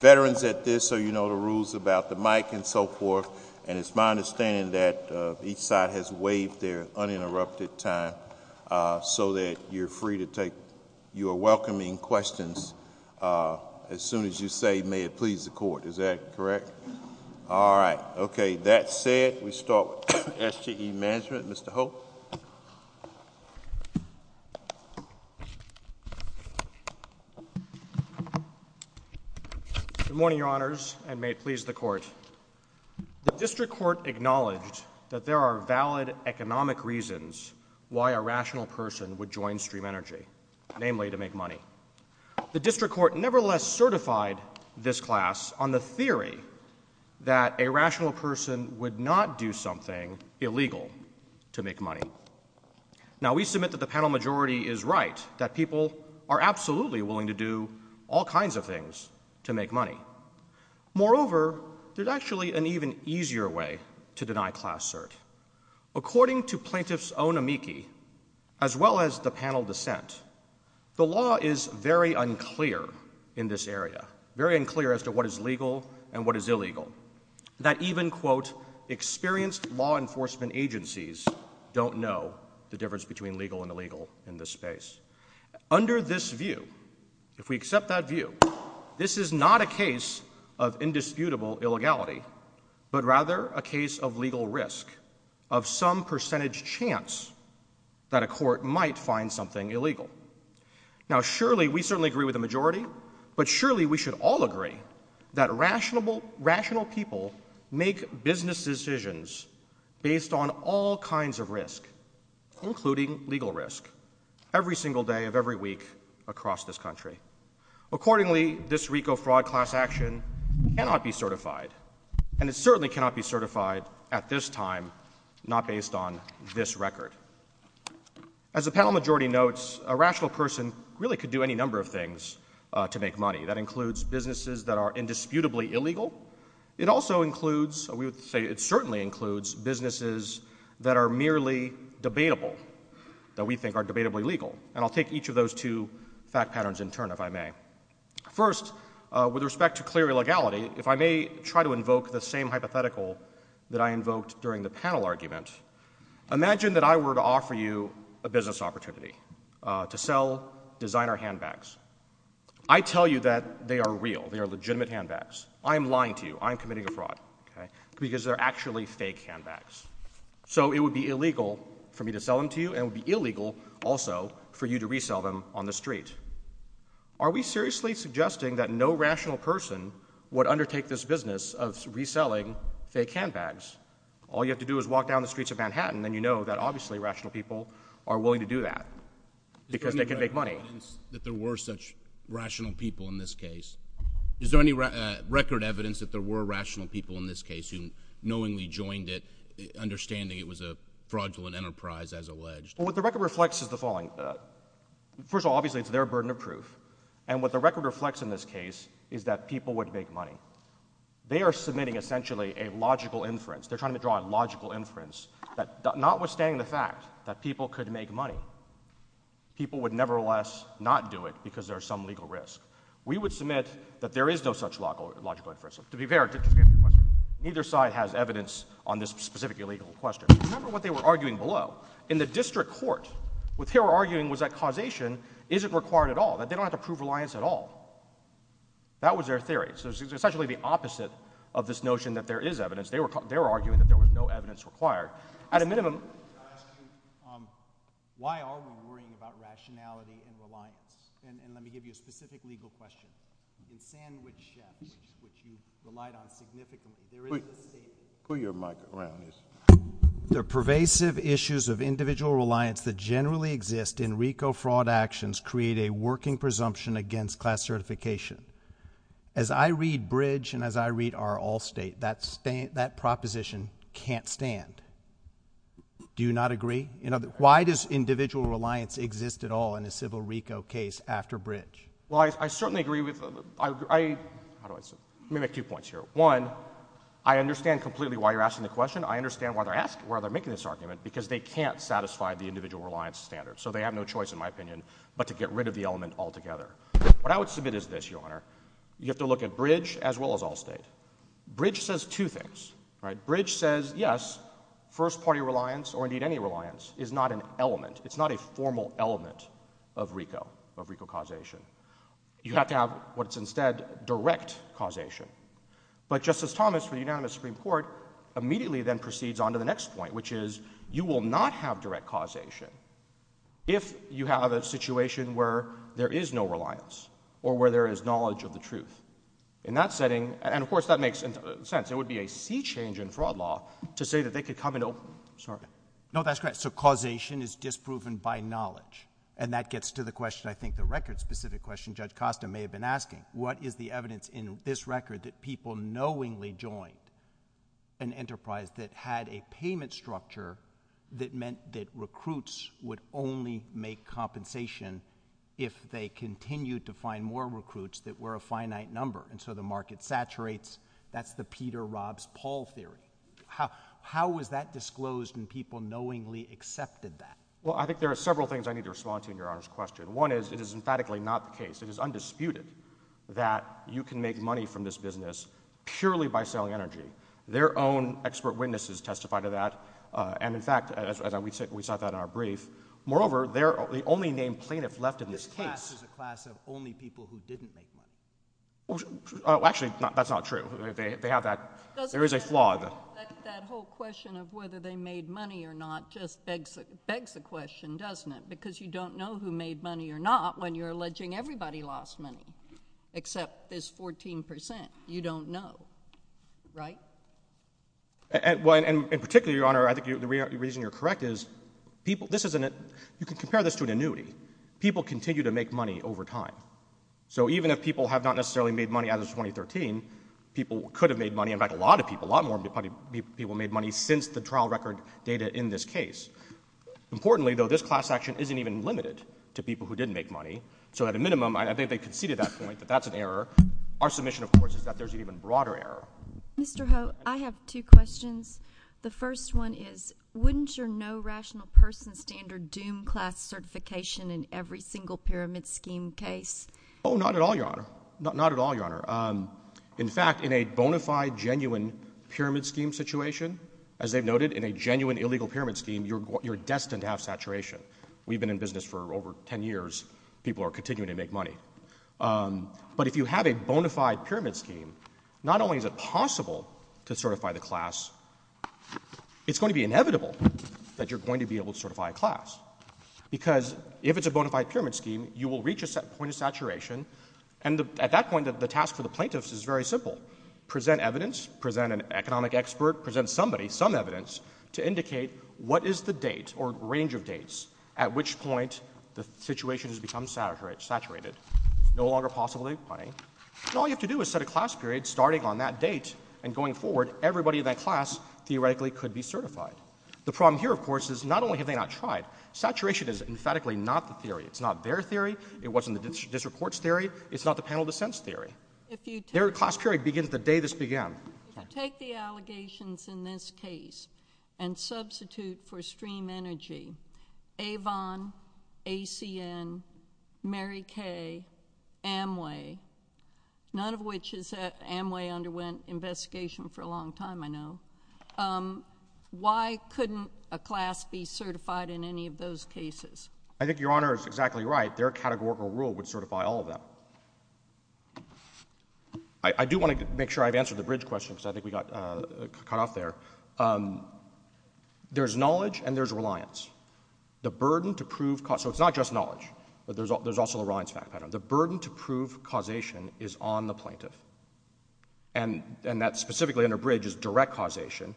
veterans at this so you know the rules about the mic and so forth. And it's my understanding that each side has waived their uninterrupted time so that you're free to take your welcoming questions as soon as you say may it please the court. Is that correct? All right. Okay. That said, we start with S.G.E. Management. Mr. Hope. Good morning, your honors, and may it please the court. The district court acknowledged that there are valid economic reasons why a rational person would join Stream Energy, namely to make money. The district court nevertheless certified this class on the theory that a rational person would not do something illegal to make money. Now we submit that the panel majority is right, that people are absolutely willing to do all kinds of things to make money. Moreover, there's actually an even easier way to deny class cert. According to plaintiff's own amici, as well as the panel dissent, the law is very unclear in this area, very unclear as to what is legal and what is illegal. That even, quote, experienced law enforcement agencies don't know the difference between legal and illegal in this space. Under this view, if we accept that view, this is not a case of indisputable illegality, but rather a case of legal risk, of some percentage chance that a court might find something illegal. Now, surely we certainly agree with the majority, but surely we should all agree that rational people make business decisions based on all kinds of risk, including legal risk, every single day of every week across this country. Accordingly, this RICO fraud class action cannot be certified, and it certainly cannot be certified at this time, not based on this record. As the panel majority notes, a rational person really could do any number of things to make money. That includes businesses that are indisputably illegal. It also includes—we would say it certainly includes—businesses that are merely debatable, that we think are debatably legal. And I'll take each of those two fact patterns in turn, if I may. First, with respect to clear illegality, if I may try to invoke the same hypothetical that I invoked during the panel argument, imagine that I were to offer you a business opportunity to sell designer handbags. I tell you that they are real. They are legitimate handbags. I am lying to you. I am committing a fraud, because they're actually fake handbags. So it would be illegal for me to sell them to you, and it would be illegal also for you to resell them on the street. Are we seriously suggesting that no rational person would undertake this business of reselling fake handbags? All you have to do is walk down the streets of Manhattan, and you know that obviously rational people are willing to do that, because they can make money. Is there any record evidence that there were such rational people in this case? Is there any record evidence that there were rational people in this case who knowingly joined it, understanding it was a fraudulent enterprise, as alleged? Well, what the record reflects is the following. First of all, obviously it's their burden of proof, and what the record reflects in this case is that people would make money. They are submitting essentially a logical inference. They're trying to draw a logical inference that notwithstanding the fact that people could make money, people would nevertheless not do it because there's some legal risk. We would submit that there is no such logical inference. To be fair, neither side has evidence on this specific illegal question. Remember what they were arguing below. In the district court, what they were arguing was that causation isn't required at all, that they don't have to prove reliance at all. That was their theory. So it's essentially the opposite of this notion that there is evidence. They were arguing that there was no evidence required. Why are we worrying about rationality and reliance? And let me give you a specific legal question. In sandwich chefs, which you relied on significantly, there is a state— Put your mic around, please. The pervasive issues of individual reliance that generally exist in RICO fraud actions create a working presumption against class certification. As I read Bridge and as I read our Allstate, that proposition can't stand. Do you not agree? Why does individual reliance exist at all in a civil RICO case after Bridge? Well, I certainly agree with—let me make two points here. One, I understand completely why you're asking the question. I understand why they're making this argument, because they can't satisfy the individual reliance standard. So they have no choice, in my opinion, but to get rid of the element altogether. What I would submit is this, Your Honor. You have to look at Bridge as well as Allstate. Bridge says two things, right? Bridge says, yes, first-party reliance, or indeed any reliance, is not an element. It's not a formal element of RICO, of RICO causation. You have to have what's instead direct causation. But Justice Thomas, for the unanimous Supreme Court, immediately then proceeds on to the next point, which is you will not have direct causation if you have a situation where there is no reliance or where there is knowledge of the truth. In that setting—and, of course, that makes sense. It would be a sea change in fraud law to say that they could come into—sorry. No, that's correct. So causation is disproven by knowledge. And that gets to the question, I think, the record-specific question Judge Costa may have been asking. What is the evidence in this record that people knowingly joined an enterprise that had a payment structure that meant that recruits would only make compensation if they continued to find more recruits that were a finite number? And so the market saturates. That's the Peter-Robs-Paul theory. How was that disclosed when people knowingly accepted that? Well, I think there are several things I need to respond to in Your Honor's question. One is it is emphatically not the case. It is undisputed that you can make money from this business purely by selling energy. Their own expert witnesses testified to that. And, in fact, as we saw that in our brief, moreover, the only named plaintiff left in this case— This cast is a class of only people who didn't make money. Actually, that's not true. They have that—there is a flaw. That whole question of whether they made money or not just begs the question, doesn't it? Because you don't know who made money or not when you're alleging everybody lost money, except this 14 percent. You don't know, right? Well, and particularly, Your Honor, I think the reason you're correct is people—this isn't—you can compare this to an annuity. People continue to make money over time. So even if people have not necessarily made money as of 2013, people could have made money—in fact, a lot of people, a lot more people made money since the trial record data in this case. Importantly, though, this class action isn't even limited to people who did make money. So at a minimum, I think they conceded that point, that that's an error. Our submission, of course, is that there's an even broader error. Mr. Ho, I have two questions. The first one is wouldn't your no rational person standard doom class certification in every single pyramid scheme case? Oh, not at all, Your Honor. Not at all, Your Honor. In fact, in a bona fide genuine pyramid scheme situation, as they've noted, in a genuine illegal pyramid scheme, you're destined to have saturation. We've been in business for over 10 years. People are continuing to make money. But if you have a bona fide pyramid scheme, not only is it possible to certify the class, it's going to be inevitable that you're going to be able to certify a class. Because if it's a bona fide pyramid scheme, you will reach a point of saturation. And at that point, the task for the plaintiffs is very simple—present evidence, present an economic expert, present somebody some evidence to indicate what is the date or range of dates at which point the situation has become saturated. It's no longer possible to make money. And all you have to do is set a class period starting on that date, and going forward, everybody in that class theoretically could be certified. The problem here, of course, is not only have they not tried, saturation is emphatically not the theory. It's not their theory. It wasn't the district court's theory. It's not the panel dissent's theory. Their class period begins the day this began. If you take the allegations in this case and substitute for stream energy, Avon, ACN, Mary Kay, Amway—none of which is that Amway underwent investigation for a long time, I know—why couldn't a class be certified in any of those cases? I think Your Honor is exactly right. Their categorical rule would certify all of them. I do want to make sure I've answered the bridge question because I think we got cut off there. There's knowledge and there's reliance. The burden to prove—so it's not just knowledge, but there's also a reliance factor. The burden to prove causation is on the plaintiff. And that specifically under bridge is direct causation,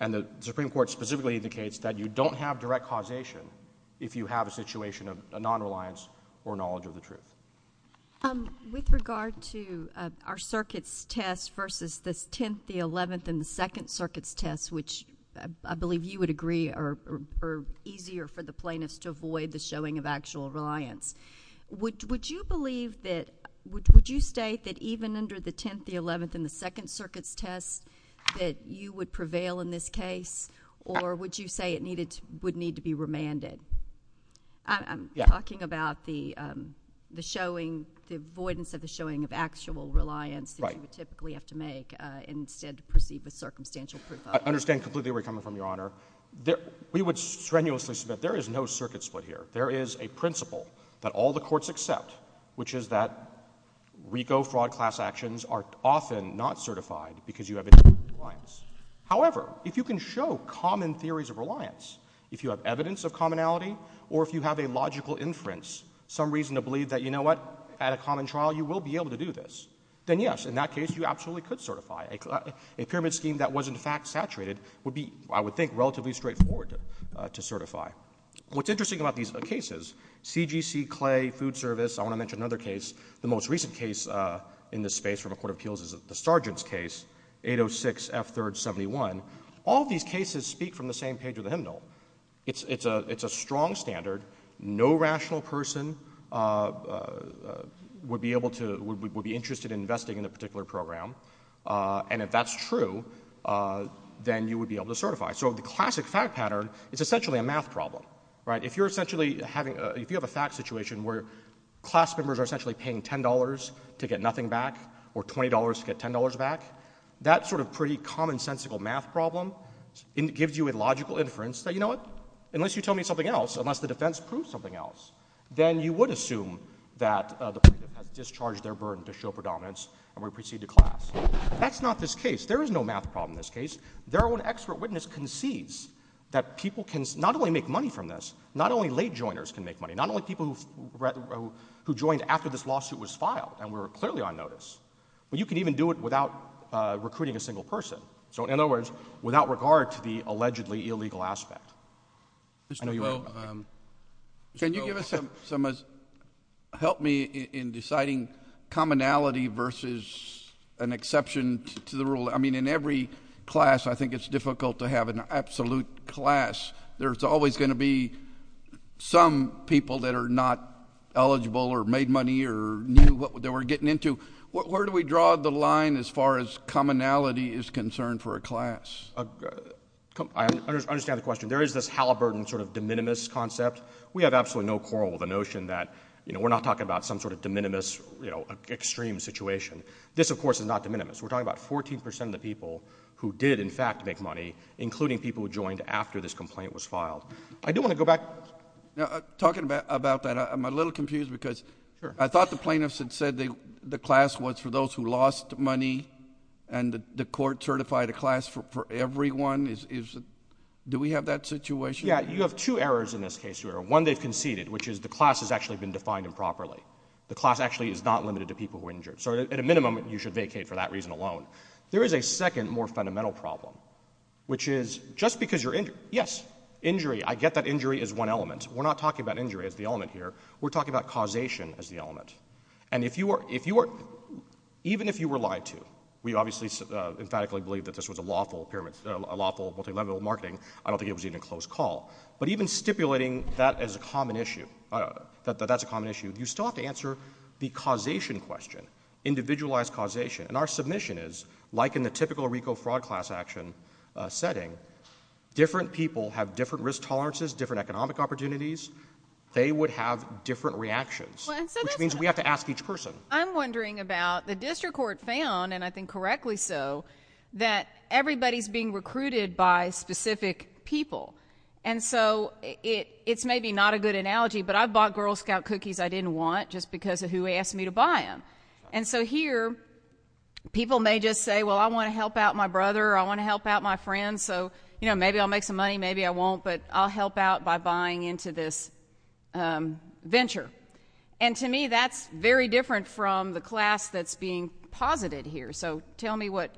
and the Supreme Court specifically indicates that you don't have direct causation if you have a situation of a nonreliance or knowledge of the truth. With regard to our circuits test versus this 10th, the 11th, and the 2nd circuits test, which I believe you would agree are easier for the plaintiffs to avoid the showing of actual reliance, would you believe that—would you state that even under the 10th, the 11th, and the 2nd circuits test that you would prevail in this case, or would you say it would need to be remanded? I'm talking about the showing—the avoidance of the showing of actual reliance that you would typically have to make instead to proceed with circumstantial proof of— I understand completely where you're coming from, Your Honor. We would strenuously submit there is no circuit split here. There is a principle that all the courts accept, which is that RICO fraud class actions are often not certified because you have independent reliance. However, if you can show common theories of reliance, if you have evidence of commonality, or if you have a logical inference, some reason to believe that, you know what, at a common trial, you will be able to do this, then yes, in that case, you absolutely could certify. A pyramid scheme that was, in fact, saturated would be, I would think, relatively straightforward to certify. What's interesting about these cases—CGC, Clay, Food Service—I want to mention another case. The most recent case in this space from a court of appeals is the Sargent's case, 806 F. 3rd. 71. All these cases speak from the same page of the hymnal. It's a strong standard. No rational person would be able to—would be interested in investing in a particular program. And if that's true, then you would be able to certify. So the classic fact pattern is essentially a math problem. If you're essentially having—if you have a fact situation where class members are essentially paying $10 to get nothing back or $20 to get $10 back, that sort of pretty commonsensical math problem gives you a logical inference that, you know what, unless you tell me something else, unless the defense proves something else, then you would assume that the plaintiff has discharged their burden to show predominance and would proceed to class. That's not this case. There is no math problem in this case. Their own expert witness concedes that people can not only make money from this, not only late joiners can make money, not only people who joined after this lawsuit was filed and were clearly on notice, but you can even do it without recruiting a single person. So in other words, without regard to the allegedly illegal aspect. Mr. Coe. Can you give us some—help me in deciding commonality versus an exception to the rule? I mean, in every class, I think it's difficult to have an absolute class. There's always going to be some people that are not eligible or made money or knew what they were getting into. Where do we draw the line as far as commonality is concerned for a class? I understand the question. There is this Halliburton sort of de minimis concept. We have absolutely no quarrel with the notion that we're not talking about some sort of de minimis extreme situation. This, of course, is not de minimis. We're talking about 14 percent of the people who did, in fact, make money, including people who joined after this complaint was filed. I do want to go back— Talking about that, I'm a little confused because I thought the plaintiffs had said the class was for those who lost money and the court certified a class for everyone. Do we have that situation? Yeah. You have two errors in this case. One, they've conceded, which is the class has actually been defined improperly. The class actually is not limited to people who are injured. So at a minimum, you should vacate for that reason alone. There is a second, more fundamental problem, which is just because you're injured—yes, injury. I get that injury is one element. We're not talking about injury as the element here. We're talking about causation as the element. And if you are—even if you were lied to, we obviously emphatically believe that this was a lawful multi-level marketing. I don't think it was even a close call. But even stipulating that as a common issue, that that's a common issue, you still have to answer the causation question, individualized causation. And our submission is, like in the typical RICO fraud class action setting, different people have different risk tolerances, different economic opportunities. They would have different reactions, which means we have to ask each person. I'm wondering about the district court found, and I think correctly so, that everybody's being recruited by specific people. And so it's maybe not a good analogy, but I've bought Girl Scout cookies I didn't want just because of who asked me to buy them. And so here, people may just say, well, I want to help out my brother or I want to help out my friends. So, you know, maybe I'll make some money, maybe I won't, but I'll help out by buying into this venture. And to me, that's very different from the class that's being posited here. So tell me what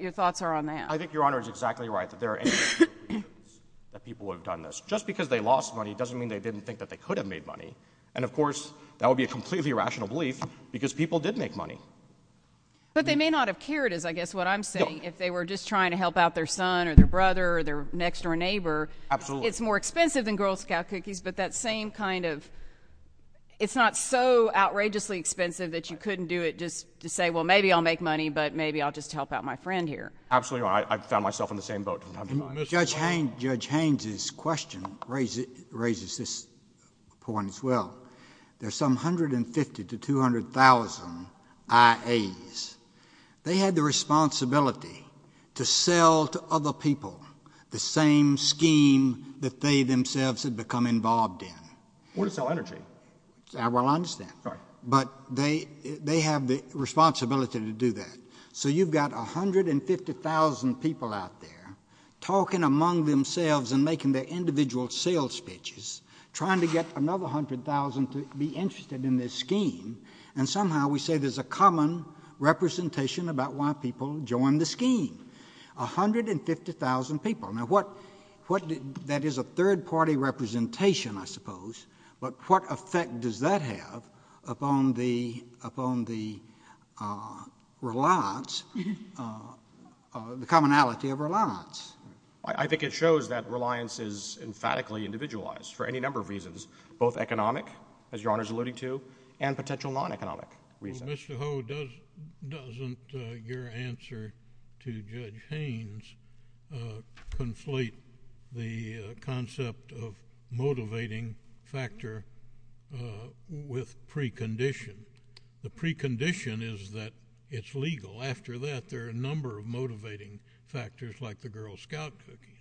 your thoughts are on that. I think Your Honor is exactly right that there are—that people would have done this. Just because they lost money doesn't mean they didn't think that they could have made money. And, of course, that would be a completely irrational belief because people did make money. But they may not have cared, is I guess what I'm saying, if they were just trying to help out their son or their brother or their next-door neighbor. Absolutely. It's more expensive than Girl Scout cookies, but that same kind of—it's not so outrageously expensive that you couldn't do it just to say, well, maybe I'll make money, but maybe I'll just help out my friend here. Absolutely right. I found myself in the same boat. Judge Haynes's question raises this point as well. There's some 150,000 to 200,000 IAs. They had the responsibility to sell to other people the same scheme that they themselves had become involved in. Or to sell energy. Well, I understand. Right. But they have the responsibility to do that. So you've got 150,000 people out there talking among themselves and making their individual sales pitches, trying to get another 100,000 to be interested in this scheme, and somehow we say there's a common representation about why people joined the scheme. 150,000 people. That is a third-party representation, I suppose. But what effect does that have upon the reliance, the commonality of reliance? I think it shows that reliance is emphatically individualized for any number of reasons, both economic, as Your Honor is alluding to, and potential non-economic reasons. Mr. Ho, doesn't your answer to Judge Haynes conflate the concept of motivating factor with precondition? The precondition is that it's legal. After that, there are a number of motivating factors, like the Girl Scout cookies.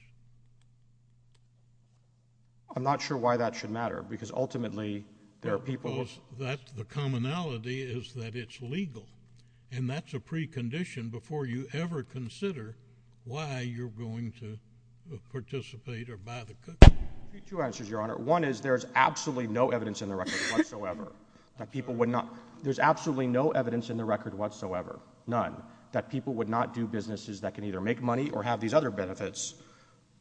I'm not sure why that should matter, because ultimately there are people who think that the commonality is that it's legal, and that's a precondition before you ever consider why you're going to participate or buy the cookies. I have two answers, Your Honor. One is there is absolutely no evidence in the record whatsoever that people would not— there's absolutely no evidence in the record whatsoever, none, that people would not do businesses that can either make money or have these other benefits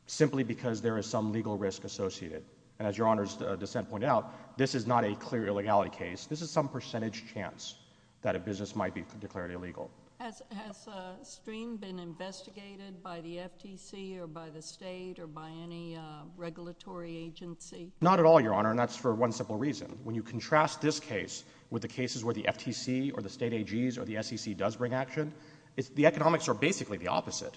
simply because there is some legal risk associated. And as Your Honor's dissent pointed out, this is not a clear illegality case. This is some percentage chance that a business might be declared illegal. Has SCREAM been investigated by the FTC or by the State or by any regulatory agency? Not at all, Your Honor, and that's for one simple reason. When you contrast this case with the cases where the FTC or the State AGs or the SEC does bring action, the economics are basically the opposite.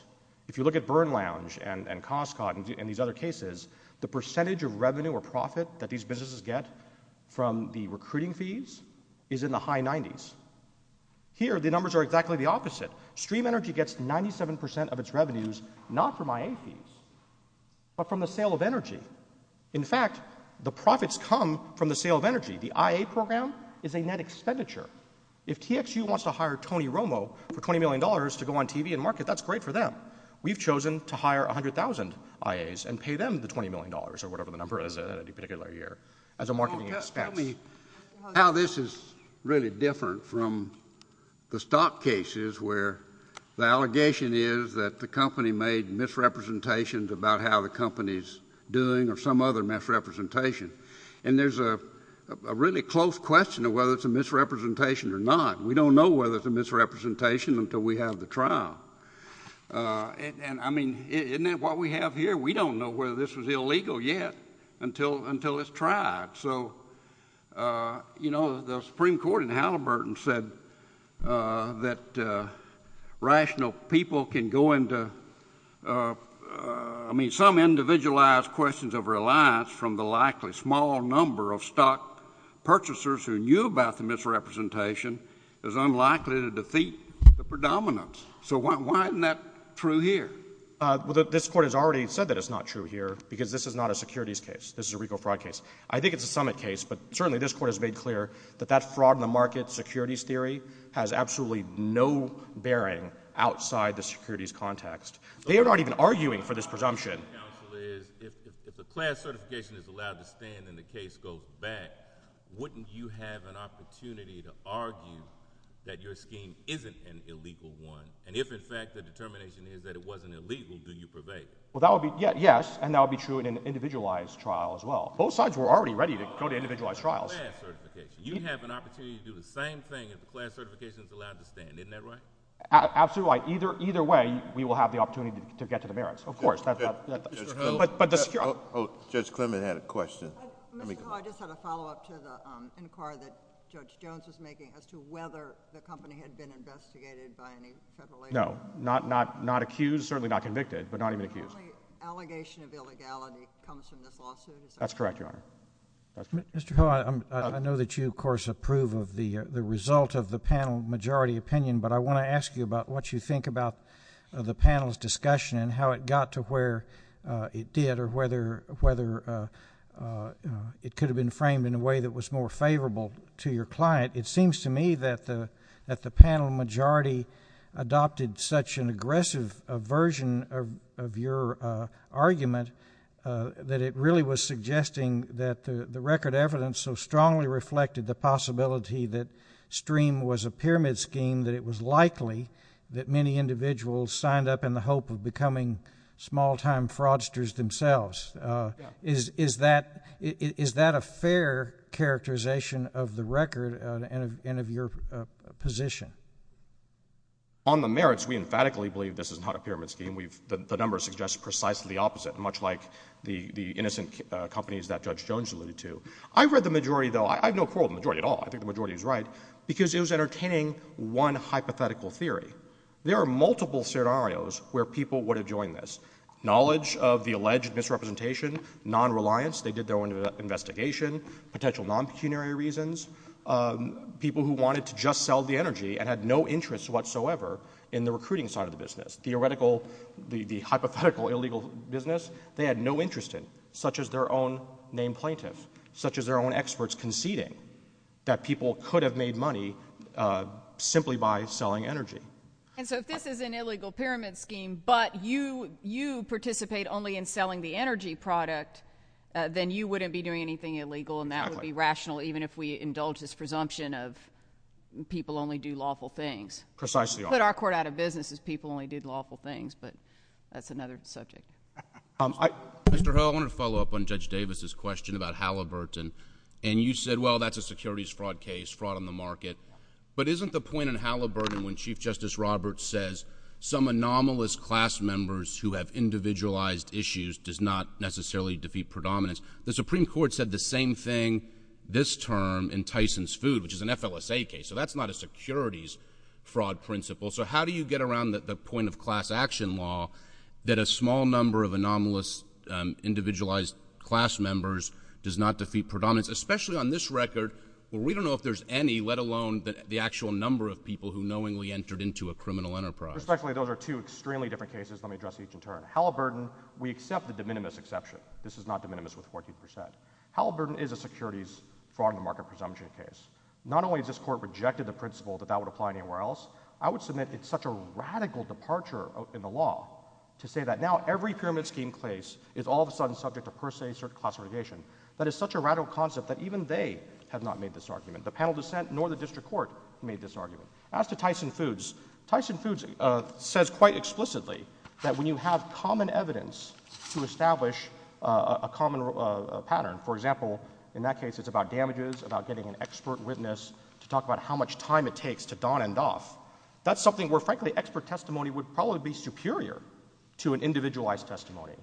If you look at Burn Lounge and Costco and these other cases, the percentage of revenue or profit that these businesses get from the recruiting fees is in the high 90s. Here, the numbers are exactly the opposite. SCREAM Energy gets 97% of its revenues not from IA fees, but from the sale of energy. In fact, the profits come from the sale of energy. The IA program is a net expenditure. If TXU wants to hire Tony Romo for $20 million to go on TV and market, that's great for them. We've chosen to hire 100,000 IAs and pay them the $20 million or whatever the number is in any particular year as a marketing expense. Tell me how this is really different from the stock cases where the allegation is that the company made misrepresentations about how the company is doing or some other misrepresentation. There's a really close question of whether it's a misrepresentation or not. We don't know whether it's a misrepresentation until we have the trial. Isn't that what we have here? We don't know whether this was illegal yet until it's tried. The Supreme Court in Halliburton said that some individualized questions of reliance from the likely small number of stock purchasers who knew about the misrepresentation is unlikely to defeat the predominance. Why isn't that true here? This Court has already said that it's not true here because this is not a securities case. This is a RICO fraud case. I think it's a summit case, but certainly this Court has made clear that that fraud-in-the-market securities theory has absolutely no bearing outside the securities context. They are not even arguing for this presumption. If the class certification is allowed to stand and the case goes back, wouldn't you have an opportunity to argue that your scheme isn't an illegal one? And if, in fact, the determination is that it wasn't illegal, do you purvey? Yes, and that would be true in an individualized trial as well. Both sides were already ready to go to individualized trials. You have an opportunity to do the same thing if the class certification is allowed to stand. Isn't that right? Absolutely right. Either way, we will have the opportunity to get to the merits. Of course. Judge Clement had a question. Mr. Howell, I just had a follow-up to the inquiry that Judge Jones was making as to whether the company had been investigated by any federal agency. No, not accused, certainly not convicted, but not even accused. The only allegation of illegality comes from this lawsuit. That's correct, Your Honor. Mr. Howell, I know that you, of course, approve of the result of the panel majority opinion, but I want to ask you about what you think about the panel's discussion and how it got to where it did or whether it could have been framed in a way that was more favorable to your client. It seems to me that the panel majority adopted such an aggressive version of your argument that it really was suggesting that the record evidence so strongly reflected the possibility that STREAM was a pyramid scheme that it was likely that many individuals signed up in the hope of becoming small-time fraudsters themselves. Is that a fair characterization of the record and of your position? On the merits, we emphatically believe this is not a pyramid scheme. The numbers suggest precisely the opposite, much like the innocent companies that Judge Jones alluded to. I read the majority, though. I have no quarrel with the majority at all. I think the majority is right because it was entertaining one hypothetical theory. There are multiple scenarios where people would have joined this. Knowledge of the alleged misrepresentation, non-reliance, they did their own investigation, potential non-pecuniary reasons, people who wanted to just sell the energy and had no interest whatsoever in the recruiting side of the business, the hypothetical illegal business they had no interest in, such as their own named plaintiffs, such as their own experts conceding that people could have made money simply by selling energy. And so if this is an illegal pyramid scheme, but you participate only in selling the energy product, then you wouldn't be doing anything illegal, and that would be rational, even if we indulge this presumption of people only do lawful things. Precisely. To put our court out of business is people only do lawful things, but that's another subject. Mr. Hill, I wanted to follow up on Judge Davis's question about Halliburton. And you said, well, that's a securities fraud case, fraud on the market. But isn't the point in Halliburton when Chief Justice Roberts says some anomalous class members who have individualized issues does not necessarily defeat predominance? The Supreme Court said the same thing this term in Tyson's Food, which is an FLSA case. So that's not a securities fraud principle. So how do you get around the point of class action law that a small number of anomalous individualized class members does not defeat predominance, especially on this record where we don't know if there's any, let alone the actual number of people who knowingly entered into a criminal enterprise? Respectfully, those are two extremely different cases. Let me address each in turn. Halliburton, we accept the de minimis exception. This is not de minimis with 40 percent. Halliburton is a securities fraud on the market presumption case. Not only has this court rejected the principle that that would apply anywhere else, I would submit it's such a radical departure in the law to say that now every pyramid scheme case is all of a sudden subject to per se classification. That is such a radical concept that even they have not made this argument. The panel dissent nor the district court made this argument. As to Tyson Foods, Tyson Foods says quite explicitly that when you have common evidence to establish a common pattern, for example, in that case it's about damages, about getting an expert witness to talk about how much time it takes to don and doff, that's something where frankly expert testimony would probably be superior to an individualized testimony.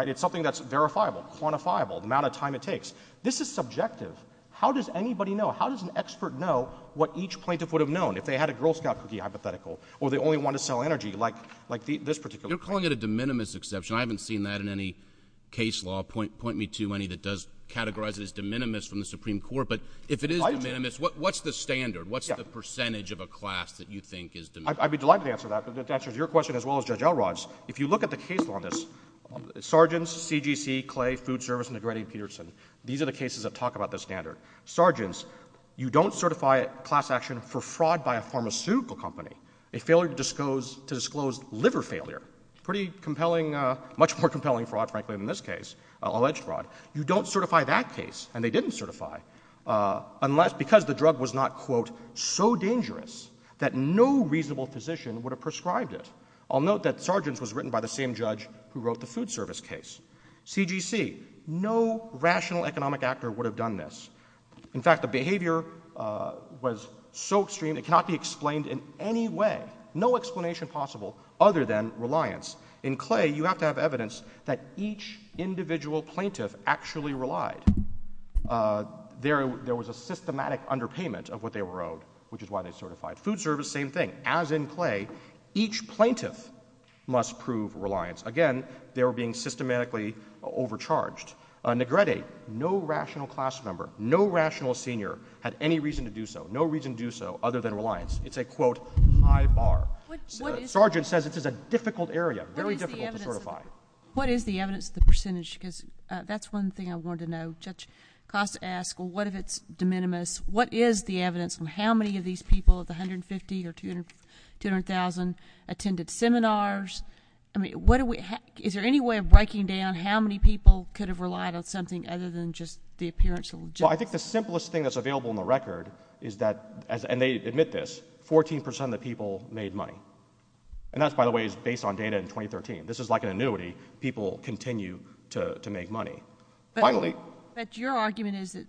It's something that's verifiable, quantifiable, the amount of time it takes. This is subjective. How does anybody know, how does an expert know what each plaintiff would have known if they had a Girl Scout cookie hypothetical or they only wanted to sell energy like this particular case? You're calling it a de minimis exception. I haven't seen that in any case law, point me to any that does categorize it as de minimis from the Supreme Court. But if it is de minimis, what's the standard? What's the percentage of a class that you think is de minimis? I'd be delighted to answer that. But to answer your question as well as Judge Elrod's, if you look at the case law on this, these are the cases that talk about the standard. Sargents, you don't certify class action for fraud by a pharmaceutical company, a failure to disclose liver failure, pretty compelling, much more compelling fraud frankly than this case, alleged fraud. You don't certify that case, and they didn't certify, because the drug was not, quote, so dangerous that no reasonable physician would have prescribed it. I'll note that Sargents was written by the same judge who wrote the food service case. CGC, no rational economic actor would have done this. In fact, the behavior was so extreme it cannot be explained in any way, no explanation possible other than reliance. In Clay, you have to have evidence that each individual plaintiff actually relied. There was a systematic underpayment of what they were owed, which is why they certified. Food service, same thing. As in Clay, each plaintiff must prove reliance. Again, they were being systematically overcharged. Negrete, no rational class member, no rational senior had any reason to do so, no reason to do so other than reliance. It's a, quote, high bar. Sargent says this is a difficult area, very difficult to certify. What is the evidence of the percentage? Because that's one thing I wanted to know. Judge Costa asked, well, what if it's de minimis? What is the evidence on how many of these people, the 150 or 200,000, attended seminars? I mean, is there any way of breaking down how many people could have relied on something other than just the appearance? Well, I think the simplest thing that's available in the record is that, and they admit this, 14% of the people made money. And that, by the way, is based on data in 2013. This is like an annuity. People continue to make money. But your argument is that,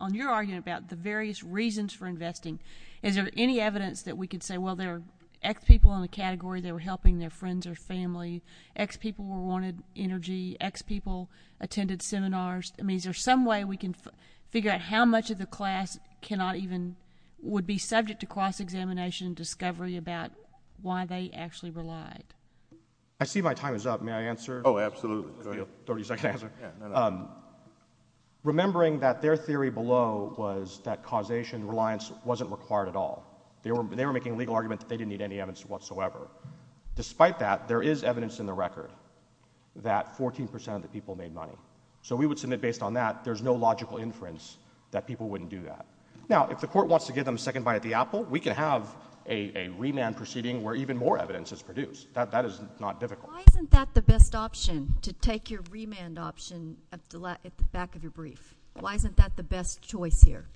on your argument about the various reasons for investing, is there any evidence that we could say, well, there are X people in the category that were helping their friends or family, X people wanted energy, X people attended seminars. I mean, is there some way we can figure out how much of the class cannot even, would be subject to cross-examination discovery about why they actually relied? I see my time is up. May I answer? Oh, absolutely. Go ahead. Thirty-second answer. Remembering that their theory below was that causation reliance wasn't required at all. They were making a legal argument that they didn't need any evidence whatsoever. Despite that, there is evidence in the record that 14% of the people made money. So we would submit, based on that, there's no logical inference that people wouldn't do that. Now, if the court wants to give them a second bite at the apple, we could have a remand proceeding where even more evidence is produced. That is not difficult. Why isn't that the best option, to take your remand option at the back of your brief? Why isn't that the best choice here?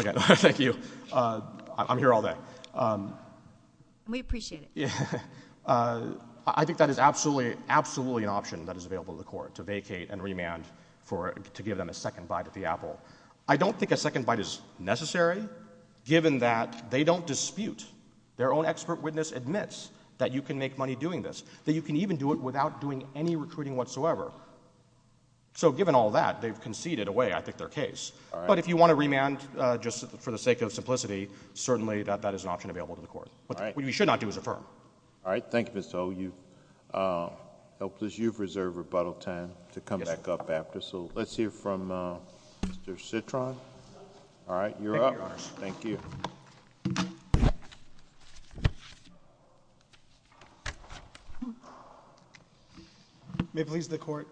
Okay. Thank you. I'm here all day. We appreciate it. I think that is absolutely, absolutely an option that is available to the court, to vacate and remand to give them a second bite at the apple. I don't think a second bite is necessary, given that they don't dispute. Their own expert witness admits that you can make money doing this, that you can even do it without doing any recruiting whatsoever. So given all that, they've conceded away, I think, their case. But if you want a remand just for the sake of simplicity, certainly that is an option available to the court. What you should not do is affirm. All right. Thank you, Mr. O. You've reserved rebuttal time to come back up after. So let's hear from Mr. Citron. All right. You're up. Thank you. May it please the court.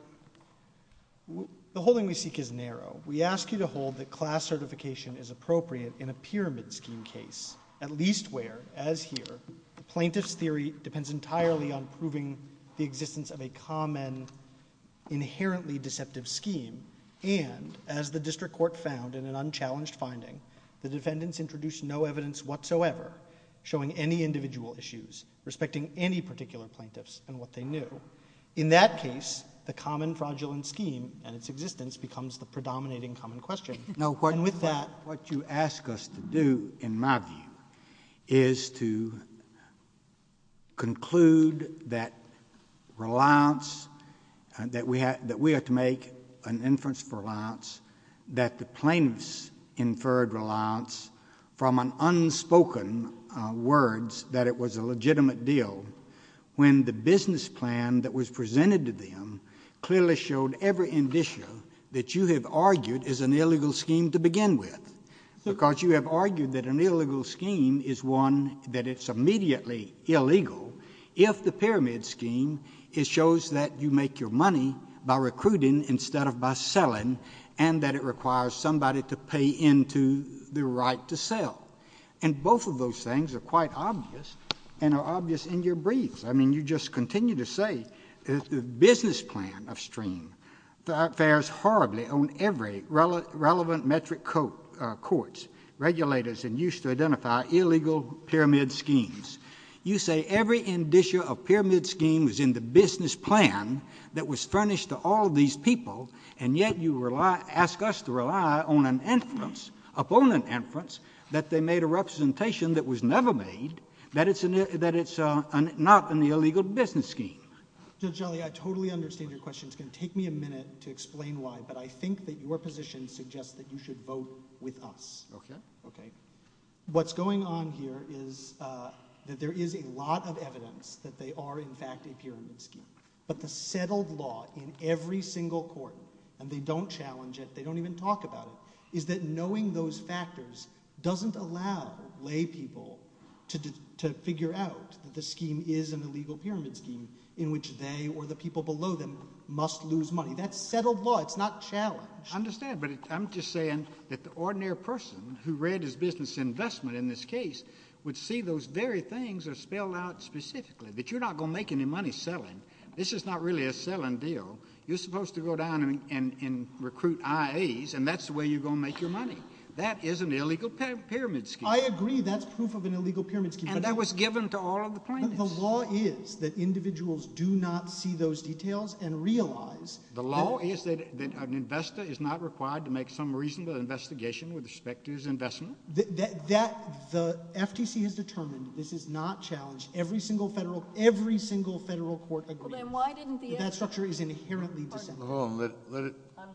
The holding we seek is narrow. We ask you to hold that class certification is appropriate in a pyramid scheme case, at least where, as here, the plaintiff's theory depends entirely on proving the existence of a common, inherently deceptive scheme. And as the district court found in an unchallenged finding, the defendants introduced no evidence whatsoever showing any individual issues, respecting any particular plaintiffs and what they knew. In that case, the common fraudulent scheme and its existence becomes the predominating common question. No, and with that, what you ask us to do, in my view, is to conclude that reliance, that we have to make an inference for reliance, that the plaintiffs inferred reliance from an unspoken words that it was a legitimate deal when the business plan that was presented to them clearly showed every indicia that you have argued is an illegal scheme to begin with, because you have argued that an illegal scheme is one that is immediately illegal if the pyramid scheme shows that you make your money by recruiting instead of by selling and that it requires somebody to pay into the right to sell. And both of those things are quite obvious and are obvious in your briefs. I mean, you just continue to say that the business plan of STREAM fares horribly on every relevant metric court's regulators in use to identify illegal pyramid schemes. You say every indicia of pyramid scheme was in the business plan that was furnished to all these people, and yet you ask us to rely on an inference, opponent inference, that they made a representation that was never made, that it's not in the illegal business scheme. Judge Ali, I totally understand your question. It's going to take me a minute to explain why, but I think that your position suggests that you should vote with us. Okay. Okay. What's going on here is that there is a lot of evidence that they are, in fact, a pyramid scheme, but the settled law in every single court, and they don't challenge it, they don't even talk about it, is that knowing those factors doesn't allow lay people to figure out that the scheme is an illegal pyramid scheme in which they or the people below them must lose money. That's settled law. It's not challenged. I understand, but I'm just saying that the ordinary person who read his business investment in this case would see those very things are spelled out specifically, that you're not going to make any money selling. This is not really a selling deal. You're supposed to go down and recruit IAs, and that's the way you're going to make your money. That is an illegal pyramid scheme. I agree. That's proof of an illegal pyramid scheme. And that was given to all of the plaintiffs. The law is that individuals do not see those details and realize that— The law is that an investor is not required to make some reasonable investigation with respect to his investment? The FTC has determined this is not challenged. Every single federal court agreed that that structure is inherently deceptive. Hold on.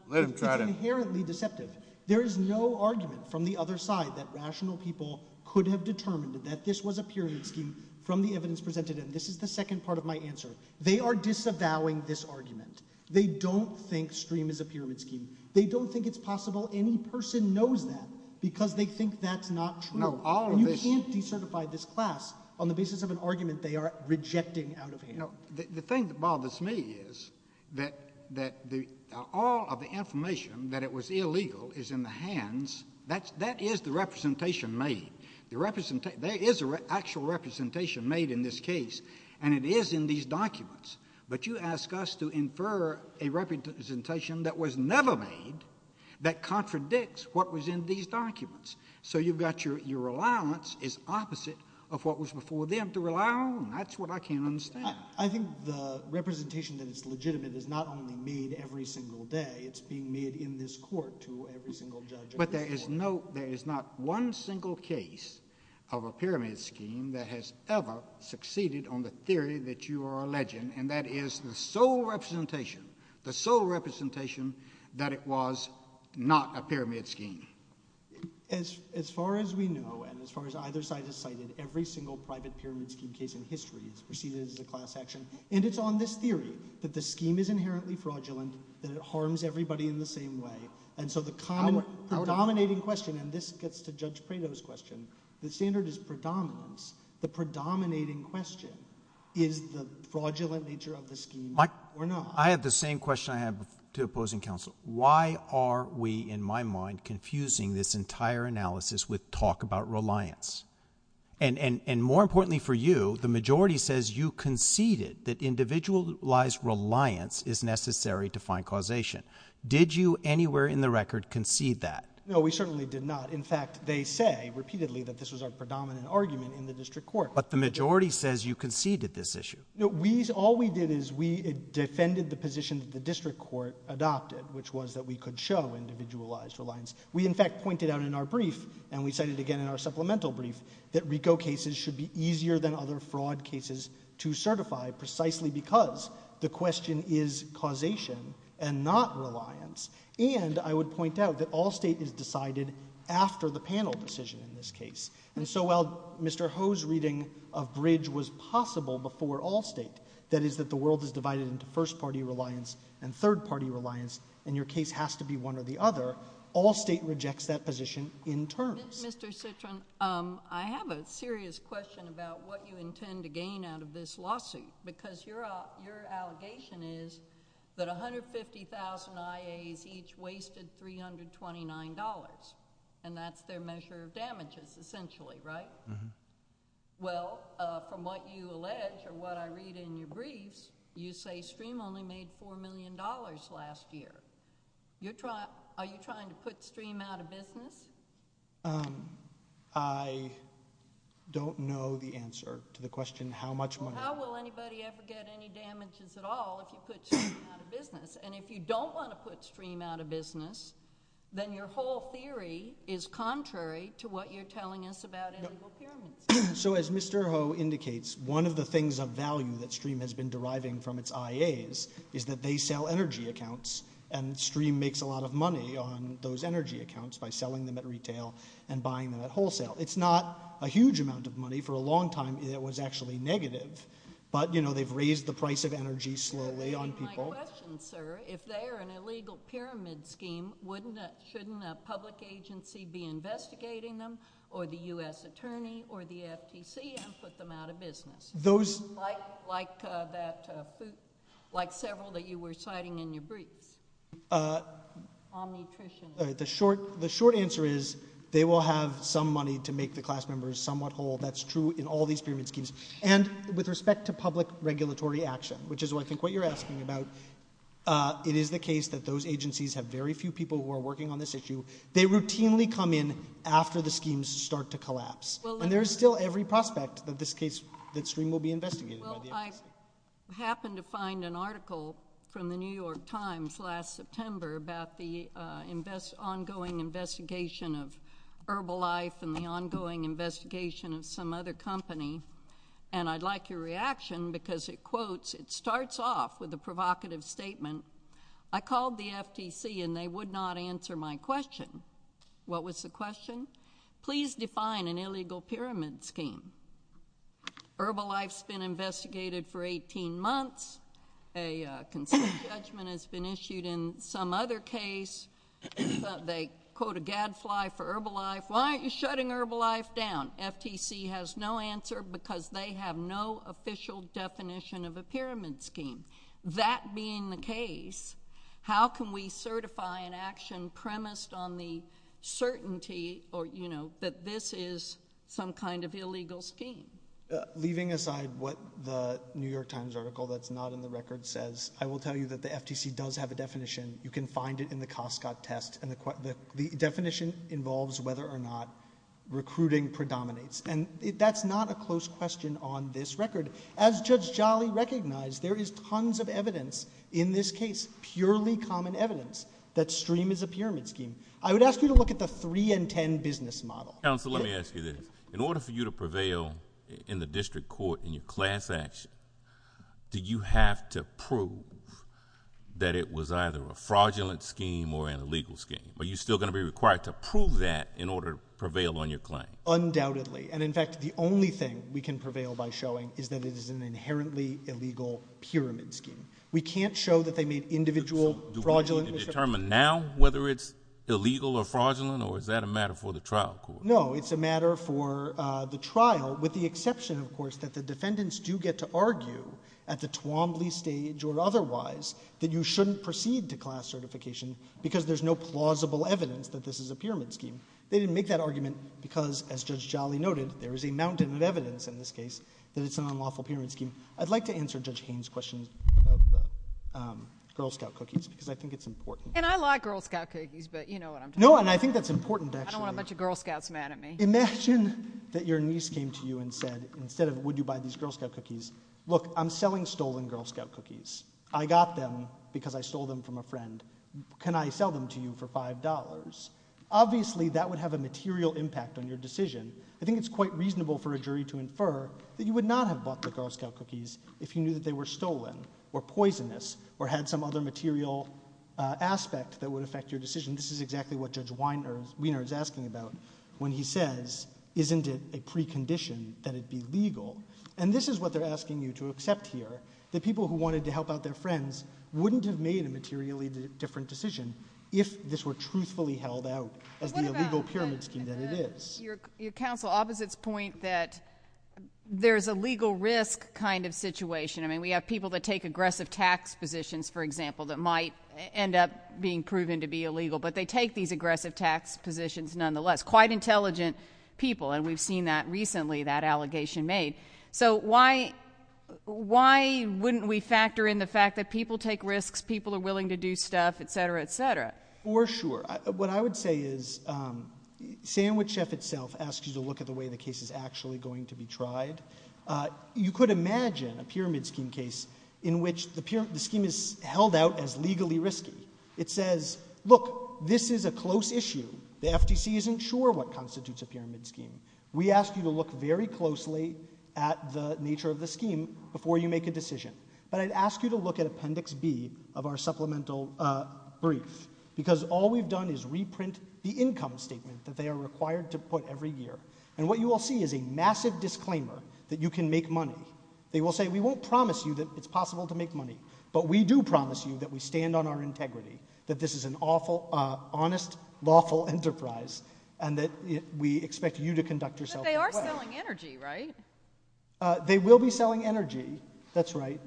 Let him try to— It's inherently deceptive. There is no argument from the other side that rational people could have determined that this was a pyramid scheme from the evidence presented, and this is the second part of my answer. They are disavowing this argument. They don't think STREAM is a pyramid scheme. They don't think it's possible any person knows that because they think that's not true. You can't decertify this class on the basis of an argument they are rejecting out of hand. The thing that bothers me is that all of the information that it was illegal is in the hands. That is the representation made. There is an actual representation made in this case, and it is in these documents. But you ask us to infer a representation that was never made that contradicts what was in these documents. So you've got your allowance is opposite of what was before them to rely on. That's what I can't understand. I think the representation that is legitimate is not only made every single day. It's being made in this court to every single judge in this court. But there is not one single case of a pyramid scheme that has ever succeeded on the theory that you are alleging, and that is the sole representation, the sole representation that it was not a pyramid scheme. As far as we know and as far as either side has cited, every single private pyramid scheme case in history has succeeded as a class action. And it's on this theory that the scheme is inherently fraudulent, that it harms everybody in the same way. And so the common predominating question, and this gets to Judge Prado's question, the standard is predominance. The predominating question is the fraudulent nature of the scheme or not. I have the same question I have to opposing counsel. Why are we, in my mind, confusing this entire analysis with talk about reliance? And more importantly for you, the majority says you conceded that individualized reliance is necessary to find causation. Did you anywhere in the record concede that? No, we certainly did not. In fact, they say repeatedly that this was our predominant argument in the district court. But the majority says you conceded this issue. No, all we did is we defended the position that the district court adopted, which was that we could show individualized reliance. We, in fact, pointed out in our brief, and we cited again in our supplemental brief, that RICO cases should be easier than other fraud cases to certify precisely because the question is causation and not reliance. And I would point out that all state is decided after the panel decision in this case. And so while Mr. Ho's reading of bridge was possible before all state, that is that the world is divided into first party reliance and third party reliance, and your case has to be one or the other, all state rejects that position in terms. Mr. Citron, I have a serious question about what you intend to gain out of this lawsuit because your allegation is that 150,000 IAs each wasted $329, and that's their measure of damages essentially, right? Well, from what you allege or what I read in your briefs, you say STREAM only made $4 million last year. Are you trying to put STREAM out of business? I don't know the answer to the question how much money. How will anybody ever get any damages at all if you put STREAM out of business? And if you don't want to put STREAM out of business, then your whole theory is contrary to what you're telling us about illegal pyramids. So as Mr. Ho indicates, one of the things of value that STREAM has been deriving from its IAs is that they sell energy accounts, and STREAM makes a lot of money on those energy accounts by selling them at retail and buying them at wholesale. It's not a huge amount of money. For a long time, it was actually negative. But, you know, they've raised the price of energy slowly on people. My question, sir, if they are an illegal pyramid scheme, shouldn't a public agency be investigating them or the U.S. Attorney or the FTC and put them out of business? Like several that you were citing in your briefs? The short answer is they will have some money to make the class members somewhat whole. That's true in all these pyramid schemes. And with respect to public regulatory action, which is what I think what you're asking about, it is the case that those agencies have very few people who are working on this issue. They routinely come in after the schemes start to collapse. And there is still every prospect that this case, that STREAM will be investigated by the agency. I happened to find an article from the New York Times last September about the ongoing investigation of Herbalife and the ongoing investigation of some other company. And I'd like your reaction because it quotes, it starts off with a provocative statement, I called the FTC and they would not answer my question. What was the question? Please define an illegal pyramid scheme. Herbalife's been investigated for 18 months. A consent judgment has been issued in some other case. They quote a gadfly for Herbalife. Why aren't you shutting Herbalife down? FTC has no answer because they have no official definition of a pyramid scheme. That being the case, how can we certify an action premised on the certainty, or you know, that this is some kind of illegal scheme? Leaving aside what the New York Times article that's not in the record says, I will tell you that the FTC does have a definition. You can find it in the Costco test. And the definition involves whether or not recruiting predominates. And that's not a close question on this record. As Judge Jolly recognized, there is tons of evidence in this case, purely common evidence, that STREAM is a pyramid scheme. I would ask you to look at the 3-in-10 business model. Counsel, let me ask you this. In order for you to prevail in the district court in your class action, do you have to prove that it was either a fraudulent scheme or an illegal scheme? Are you still going to be required to prove that in order to prevail on your claim? Undoubtedly. And, in fact, the only thing we can prevail by showing is that it is an inherently illegal pyramid scheme. We can't show that they made individual fraudulent. Can you determine now whether it's illegal or fraudulent, or is that a matter for the trial court? No, it's a matter for the trial, with the exception, of course, that the defendants do get to argue at the Twombly stage or otherwise that you shouldn't proceed to class certification because there's no plausible evidence that this is a pyramid scheme. They didn't make that argument because, as Judge Jolly noted, there is a mountain of evidence in this case that it's an unlawful pyramid scheme. I'd like to answer Judge Haynes' question about the Girl Scout cookies because I think it's important. And I like Girl Scout cookies, but you know what I'm talking about. No, and I think that's important, actually. I don't want a bunch of Girl Scouts mad at me. Imagine that your niece came to you and said, instead of would you buy these Girl Scout cookies, look, I'm selling stolen Girl Scout cookies. I got them because I stole them from a friend. Can I sell them to you for $5? Obviously, that would have a material impact on your decision. I think it's quite reasonable for a jury to infer that you would not have bought the Girl Scout cookies if you knew that they were stolen or poisonous or had some other material aspect that would affect your decision. This is exactly what Judge Wiener is asking about when he says, isn't it a precondition that it be legal? And this is what they're asking you to accept here, that people who wanted to help out their friends wouldn't have made a materially different decision if this were truthfully held out as the illegal pyramid scheme that it is. Your counsel opposites point that there's a legal risk kind of situation. I mean, we have people that take aggressive tax positions, for example, that might end up being proven to be illegal, but they take these aggressive tax positions nonetheless. Quite intelligent people, and we've seen that recently, that allegation made. So why wouldn't we factor in the fact that people take risks, people are willing to do stuff, et cetera, et cetera? For sure. What I would say is Sandwich Chef itself asks you to look at the way the case is actually going to be tried. You could imagine a pyramid scheme case in which the scheme is held out as legally risky. It says, look, this is a close issue. The FTC isn't sure what constitutes a pyramid scheme. We ask you to look very closely at the nature of the scheme before you make a decision. But I'd ask you to look at Appendix B of our supplemental brief, because all we've done is reprint the income statement that they are required to put every year. And what you will see is a massive disclaimer that you can make money. They will say, we won't promise you that it's possible to make money, but we do promise you that we stand on our integrity, that this is an honest, lawful enterprise, and that we expect you to conduct yourself well. But they are selling energy, right? They will be selling energy, that's right.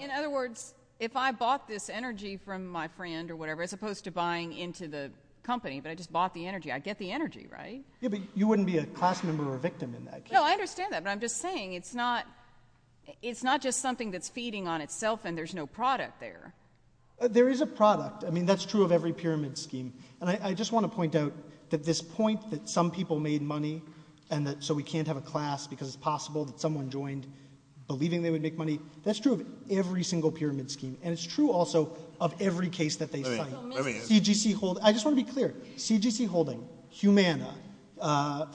In other words, if I bought this energy from my friend or whatever, as opposed to buying into the company, but I just bought the energy, I get the energy, right? Yeah, but you wouldn't be a class member or victim in that case. No, I understand that. But I'm just saying it's not just something that's feeding on itself and there's no product there. There is a product. I mean, that's true of every pyramid scheme. And I just want to point out that this point that some people made money so we can't have a class because it's possible that someone joined, believing they would make money, that's true of every single pyramid scheme. And it's true also of every case that they fight. I just want to be clear. CGC Holding, Humana,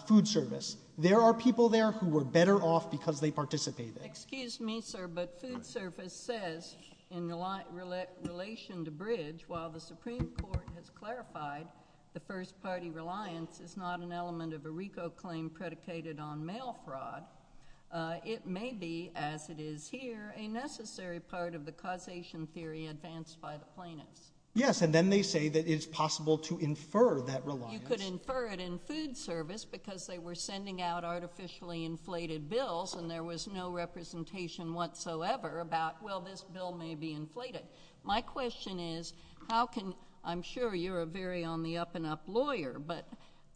Food Service, there are people there who were better off because they participated. Excuse me, sir, but Food Service says in relation to Bridge, while the Supreme Court has clarified the first party reliance is not an element of a RICO claim predicated on mail fraud, it may be, as it is here, a necessary part of the causation theory advanced by the plaintiffs. Yes, and then they say that it's possible to infer that reliance. You could infer it in Food Service because they were sending out artificially inflated bills and there was no representation whatsoever about, well, this bill may be inflated. My question is, how can, I'm sure you're a very on-the-up-enough lawyer, but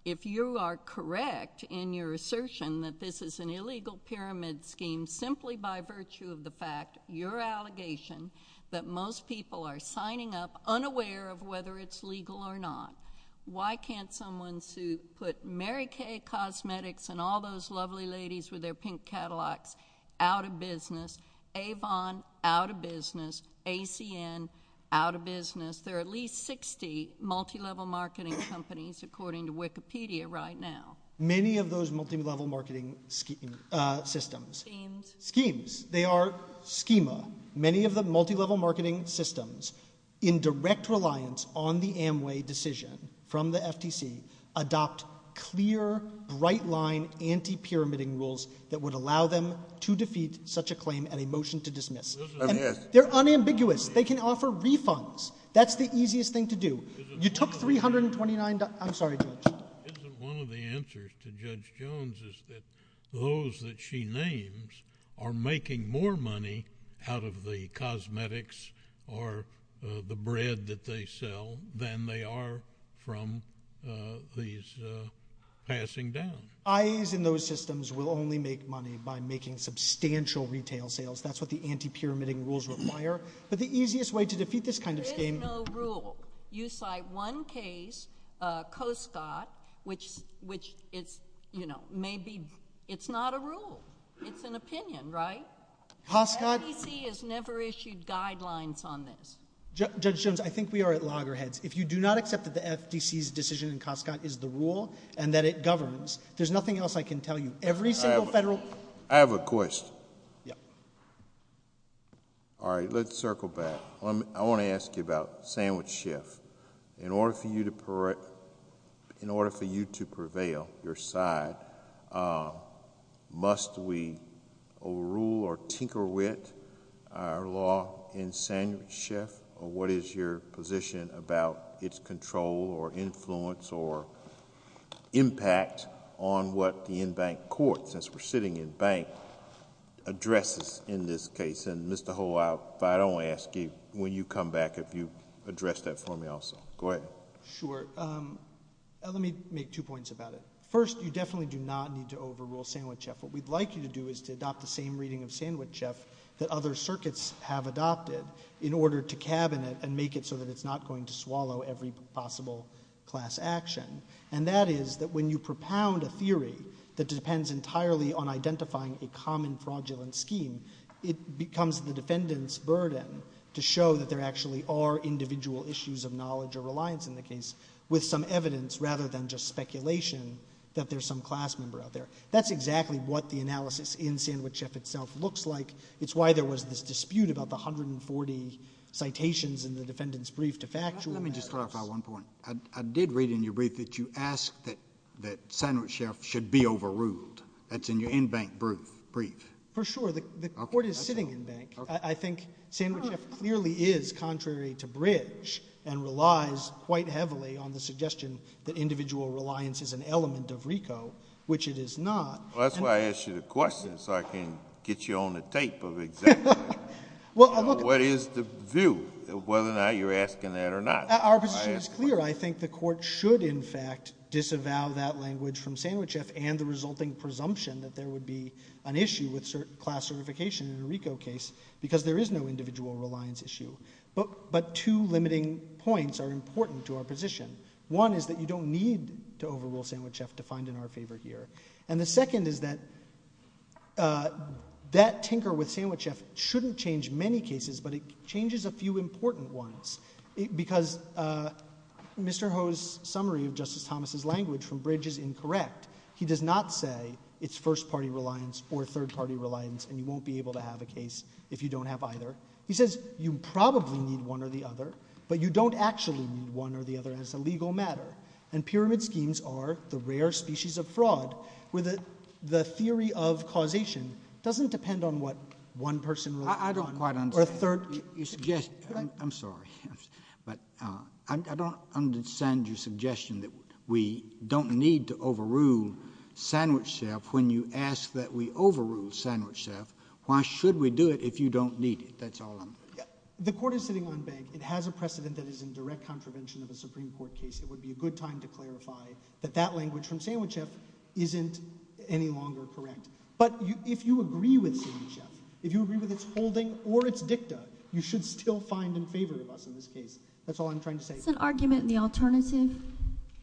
if you are correct in your assertion that this is an illegal pyramid scheme simply by virtue of the fact, your allegation, that most people are signing up unaware of whether it's legal or not, why can't someone put Mary Kay Cosmetics and all those lovely ladies with their pink Cadillacs out of business, Avon out of business, ACN out of business? There are at least 60 multilevel marketing companies, according to Wikipedia, right now. Many of those multilevel marketing systems. Schemes. Schemes. They are schema. Many of the multilevel marketing systems, in direct reliance on the Amway decision from the FTC, adopt clear, bright-line, anti-pyramiding rules that would allow them to defeat such a claim and a motion to dismiss. They're unambiguous. They can offer refunds. That's the easiest thing to do. You took $329. I'm sorry, Judge. Isn't one of the answers to Judge Jones is that those that she names are making more money out of the cosmetics or the bread that they sell than they are from these passing down. IAs in those systems will only make money by making substantial retail sales. That's what the anti-pyramiding rules require. But the easiest way to defeat this kind of scheme... There is no rule. You cite one case, Coscott, which it's not a rule. It's an opinion, right? FTC has never issued guidelines on this. Judge Jones, I think we are at loggerheads. If you do not accept that the FTC's decision in Coscott is the rule and that it governs, there's nothing else I can tell you. Every single federal... I have a question. All right, let's circle back. I want to ask you about sandwich shift. In order for you to prevail, your side, must we overrule or tinker with our law in sandwich shift? What is your position about its control or influence or impact on what the in-bank court, since we're sitting in bank, addresses in this case? I don't want to ask you when you come back if you address that for me also. Go ahead. Sure. Let me make two points about it. First, you definitely do not need to overrule sandwich shift. What we'd like you to do is to adopt the same reading of sandwich shift that other circuits have adopted in order to cabin it and make it so that it's not going to swallow every possible class action. And that is that when you propound a theory that depends entirely on identifying a common fraudulent scheme, it becomes the defendant's burden to show that there actually are individual issues of knowledge or reliance in the case with some evidence rather than just speculation that there's some class member out there. That's exactly what the analysis in sandwich shift itself looks like. It's why there was this dispute about the 140 citations in the defendant's brief to factual evidence. Let me just clarify one point. I did read in your brief that you asked that sandwich shift should be overruled. That's in your in-bank brief. For sure. The court is sitting in-bank. I think sandwich shift clearly is contrary to bridge and relies quite heavily on the suggestion that individual reliance is an element of RICO, which it is not. Well, that's why I asked you the question so I can get you on the tape of exactly what is the view, whether or not you're asking that or not. Our position is clear. I think the court should, in fact, disavow that language from sandwich shift and the resulting presumption that there would be an issue with class certification in a RICO case because there is no individual reliance issue. But two limiting points are important to our position. One is that you don't need to overrule sandwich shift to find in our favor here. And the second is that that tinker with sandwich shift shouldn't change many cases, but it changes a few important ones because Mr. Ho's summary of Justice Thomas' language from bridge is incorrect. He does not say it's first-party reliance or third-party reliance and you won't be able to have a case if you don't have either. He says you probably need one or the other, but you don't actually need one or the other as a legal matter. And pyramid schemes are the rare species of fraud where the theory of causation doesn't depend on what one person relies on. I don't quite understand. I'm sorry, but I don't understand your suggestion that we don't need to overrule sandwich shift when you ask that we overrule sandwich shift. Why should we do it if you don't need it? That's all I'm... The court is sitting on bank. It has a precedent that is in direct contravention of a Supreme Court case. It would be a good time to clarify that that language from sandwich shift isn't any longer correct. But if you agree with sandwich shift, if you agree with its holding or its dicta, you should still find in favor of us in this case. That's all I'm trying to say. Is this an argument in the alternative?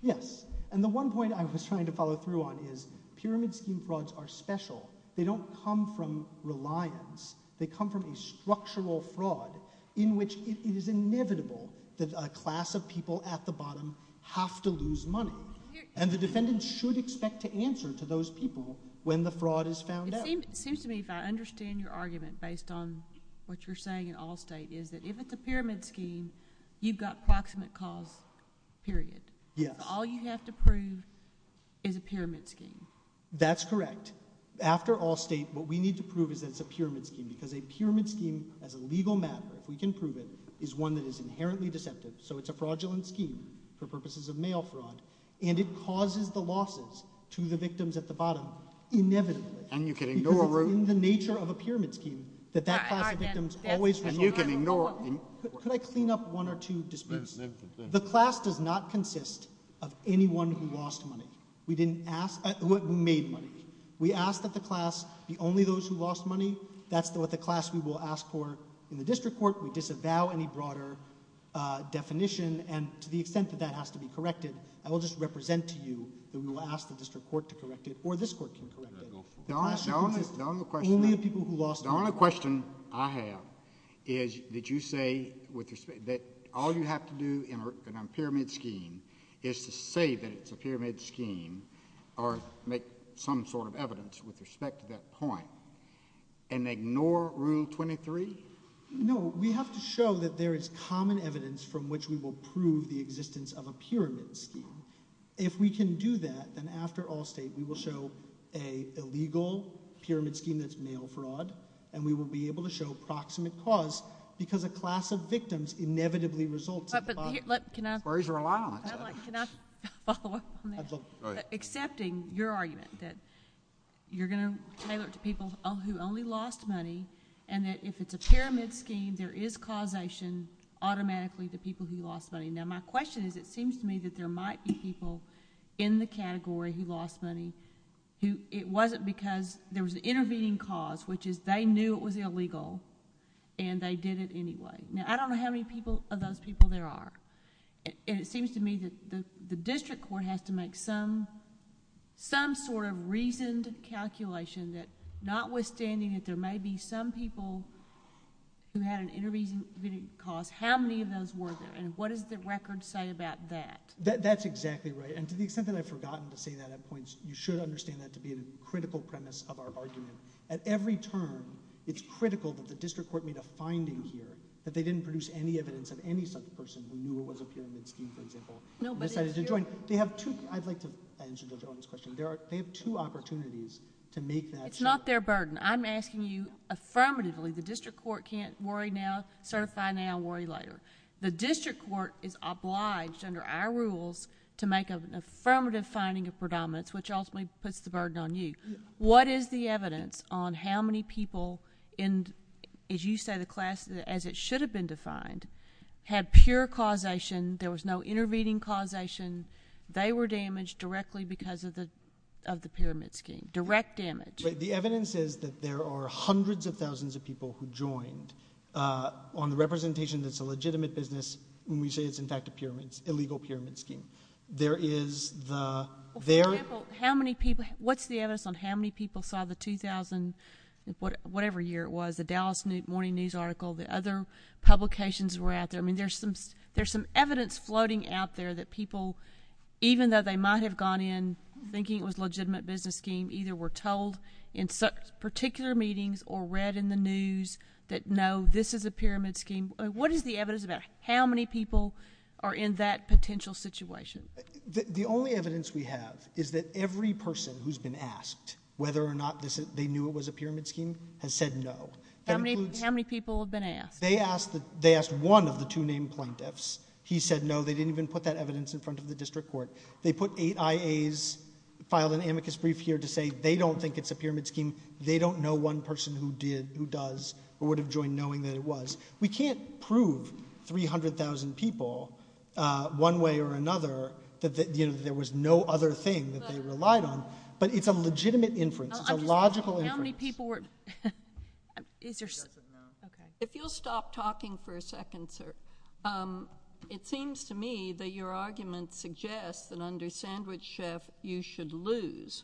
Yes. And the one point I was trying to follow through on is pyramid scheme frauds are special. They don't come from reliance. They come from a structural fraud in which it is inevitable that a class of people at the bottom have to lose money. And the defendant should expect to answer to those people when the fraud is found out. It seems to me if I understand your argument based on what you're saying in Allstate is that if it's a pyramid scheme, you've got proximate cause, period. Yes. All you have to prove is a pyramid scheme. That's correct. After Allstate, what we need to prove is that it's a pyramid scheme because a pyramid scheme as a legal matter, if we can prove it, is one that is inherently deceptive. So it's a fraudulent scheme for purposes of mail fraud and it causes the losses to the victims at the bottom inevitably. And you can ignore... Because it's in the nature of a pyramid scheme that that class of victims always... And you can ignore... Could I clean up one or two disputes? The class does not consist of anyone who lost money, who made money. We ask that the class be only those who lost money. That's what the class we will ask for in the district court. We disavow any broader definition and to the extent that that has to be corrected, I will just represent to you that we will ask the district court to correct it or this court to correct it. The only question I have is that you say that all you have to do in a pyramid scheme is to say that it's a pyramid scheme or make some sort of evidence with respect to that point and ignore Rule 23? No, we have to show that there is common evidence from which we will prove the existence of a pyramid scheme. If we can do that, then after Allstate, we will show an illegal pyramid scheme that's mail fraud and we will be able to show proximate cause because a class of victims inevitably results... But can I... Spurs are allowed. Can I follow up on that? Right. Accepting your argument that you're going to tailor it to people who only lost money and that if it's a pyramid scheme, there is causation automatically to people who lost money. Now, my question is it seems to me that there might be people in the category who lost money who it wasn't because there was an intervening cause which is they knew it was illegal and they did it anyway. Now, I don't know how many people of those people there are. It seems to me that the district court has to make some sort of reasoned calculation that notwithstanding that there may be some people who had an intervening cause, how many of those were there and what does the record say about that? That's exactly right. And to the extent that I've forgotten to say that at points, you should understand that to be a critical premise of our argument. At every turn, it's critical that the district court made a finding here that they didn't produce any evidence of any such person who knew it was a pyramid scheme, for example, and decided to join. They have two... I'd like to answer Judge Arnold's question. They have two opportunities to make that... It's not their burden. I'm asking you affirmatively, the district court can't worry now, certify now, worry later. The district court is obliged under our rules to make an affirmative finding of predominance, which ultimately puts the burden on you. What is the evidence on how many people in, as you say, the class, as it should have been defined, had pure causation, there was no intervening causation, they were damaged directly because of the pyramid scheme, direct damage? The evidence is that there are hundreds of thousands of people who joined on the representation that's a legitimate business when we say it's, in fact, a pyramid, an illegal pyramid scheme. There is the... For example, how many people... What's the evidence on how many people saw the 2000... whatever year it was, the Dallas Morning News article, the other publications that were out there? I mean, there's some evidence floating out there that people, even though they might have gone in thinking it was a legitimate business scheme, either were told in particular meetings or read in the news that, no, this is a pyramid scheme. What is the evidence about how many people are in that potential situation? The only evidence we have is that every person who's been asked whether or not they knew it was a pyramid scheme has said no. How many people have been asked? They asked one of the two named plaintiffs. He said no, they didn't even put that evidence in front of the district court. They put eight IAs, filed an amicus brief here to say they don't think it's a pyramid scheme, they don't know one person who did, who does, or would have joined knowing that it was. We can't prove 300,000 people one way or another that there was no other thing that they relied on, but it's a legitimate inference. It's a logical inference. How many people were— If you'll stop talking for a second, sir. It seems to me that your argument suggests that under Sandwich Chef you should lose.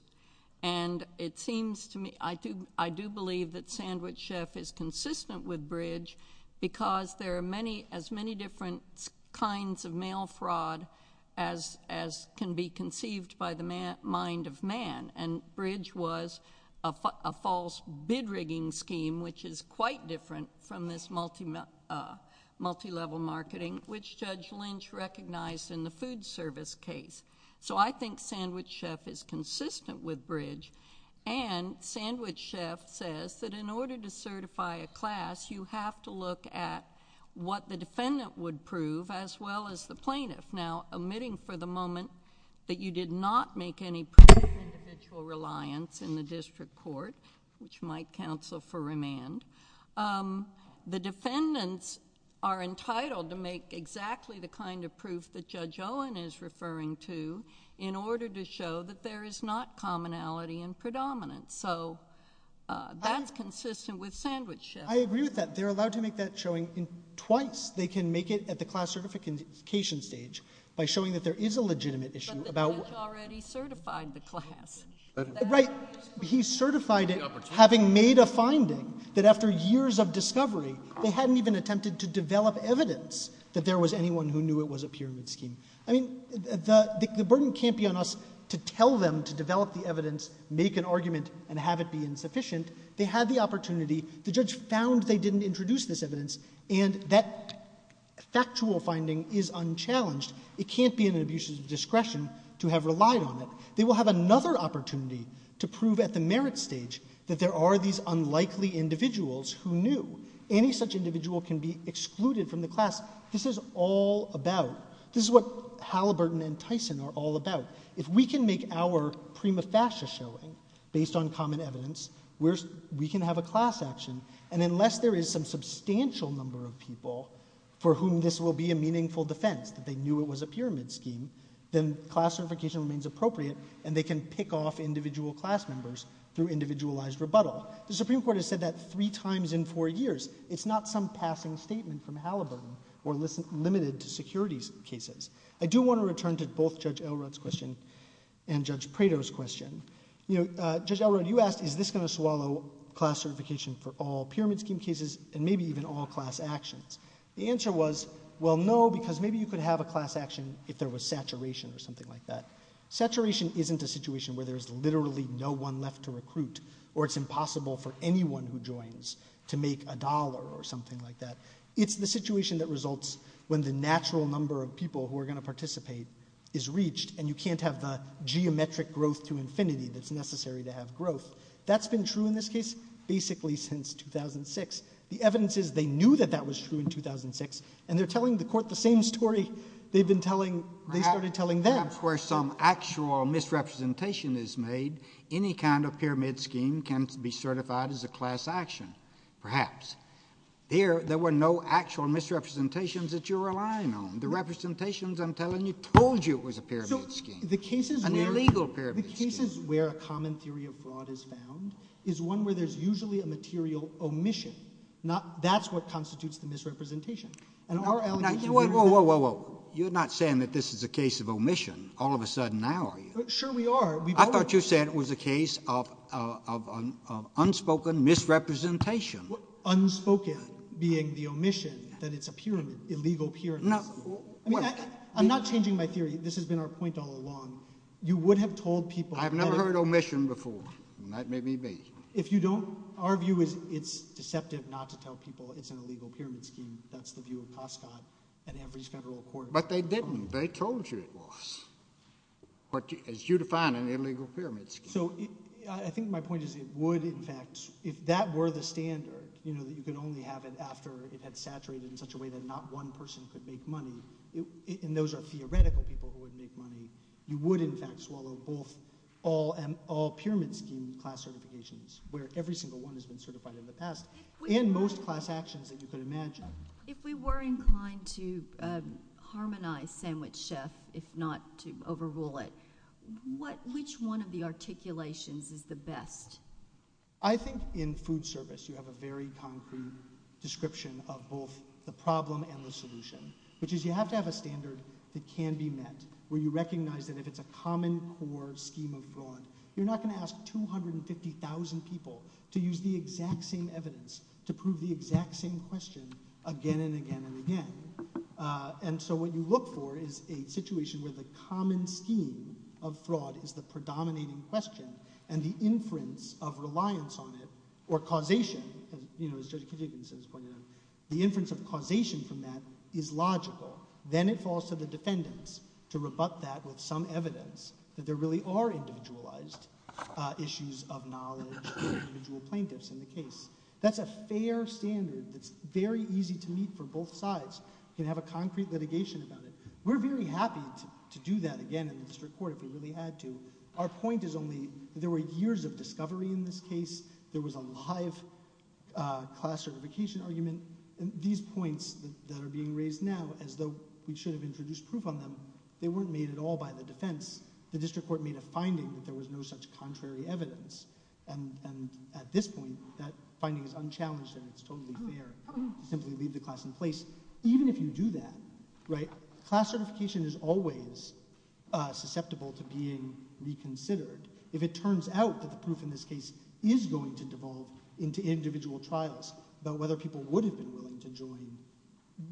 I do believe that Sandwich Chef is consistent with Bridge because there are as many different kinds of mail fraud as can be conceived by the mind of man, and Bridge was a false bid-rigging scheme, which is quite different from this multilevel marketing, which Judge Lynch recognized in the food service case. So I think Sandwich Chef is consistent with Bridge, and Sandwich Chef says that in order to certify a class, you have to look at what the defendant would prove as well as the plaintiff. Now, omitting for the moment that you did not make any proof of individual reliance in the district court, which might counsel for remand, the defendants are entitled to make exactly the kind of proof that Judge Owen is referring to in order to show that there is not commonality in predominance. So that's consistent with Sandwich Chef. I agree with that. They're allowed to make that showing twice. They can make it at the class certification stage by showing that there is a legitimate issue about— But the judge already certified the class. Right. He certified it having made a finding that after years of discovery, they hadn't even attempted to develop evidence that there was anyone who knew it was a pyramid scheme. I mean, the burden can't be on us to tell them to develop the evidence, make an argument, and have it be insufficient. They had the opportunity. The judge found they didn't introduce this evidence, and that factual finding is unchallenged. It can't be an abuse of discretion to have relied on it. They will have another opportunity to prove at the merit stage that there are these unlikely individuals who knew. Any such individual can be excluded from the class. This is all about— This is what Halliburton and Tyson are all about. If we can make our prima facie showing based on common evidence, we can have a class action. And unless there is some substantial number of people for whom this will be a meaningful defense, that they knew it was a pyramid scheme, then class certification remains appropriate, and they can pick off individual class members through individualized rebuttal. The Supreme Court has said that three times in four years. It's not some passing statement from Halliburton or limited to securities cases. I do want to return to both Judge Elrod's question and Judge Prado's question. Judge Elrod, you asked, is this going to swallow class certification for all pyramid scheme cases and maybe even all class actions? The answer was, well, no, because maybe you could have a class action if there was saturation or something like that. Saturation isn't a situation where there's literally no one left to recruit, or it's impossible for anyone who joins to make a dollar or something like that. It's the situation that results when the natural number of people who are going to participate is reached, and you can't have the geometric growth to infinity that's necessary to have growth. That's been true in this case basically since 2006. The evidence is they knew that that was true in 2006, and they're telling the court the same story they've been telling... they started telling them. Perhaps where some actual misrepresentation is made, any kind of pyramid scheme can be certified as a class action. Perhaps. Here, there were no actual misrepresentations that you're relying on. The representations I'm telling you told you it was a pyramid scheme. An illegal pyramid scheme. The cases where a common theory abroad is found is one where there's usually a material omission. That's what constitutes the misrepresentation. Whoa, whoa, whoa. You're not saying that this is a case of omission. All of a sudden now are you? Sure we are. I thought you were saying it was a case of unspoken misrepresentation. Unspoken being the omission, that it's a pyramid, illegal pyramid scheme. I mean, I'm not changing my theory. This has been our point all along. You would have told people... I've never heard omission before, and that made me beat. If you don't, our view is it's deceptive not to tell people it's an illegal pyramid scheme. That's the view of Proscott and every federal court. But they didn't. They told you it was. As you define an illegal pyramid scheme. I think my point is it would, in fact, if that were the standard, that you could only have it after it had saturated in such a way that not one person could make money, and those are theoretical people who would make money, you would, in fact, swallow both all pyramid scheme class certifications, where every single one has been certified in the past, and most class actions that you could imagine. If we were inclined to harmonize sandwich chef, if not to overrule it, which one of the articulations is the best? I think in food service, you have a very concrete description of both the problem and the solution, which is you have to have a standard that can be met, where you recognize that if it's a common core scheme of law, you're not going to ask 250,000 people to use the exact same evidence to prove the exact same question again and again and again. And so what you look for is a situation where the common scheme of fraud is the predominating question, and the inference of reliance on it, or causation, you know, as Judge Cadogan says, the inference of causation from that is logical. Then it falls to the defendants to rebut that with some evidence that there really are individualized issues of knowledge for individual plaintiffs in the case. That's a fair standard. It's very easy to meet for both sides. You can have a concrete litigation about it. We're very happy to do that again in the district court if we really had to. Our point is only there were years of discovery in this case. There was a live class certification argument. These points that are being raised now, as though we should have introduced proof on them, they weren't made at all by the defense. The district court made a finding that there was no such contrary evidence. And at this point, that finding is unchallenged and it's totally fair to simply leave the class in place. Even if you do that, right, class certification is always susceptible to being reconsidered. If it turns out that the proof in this case is going to devolve into individual trials about whether people would have been willing to join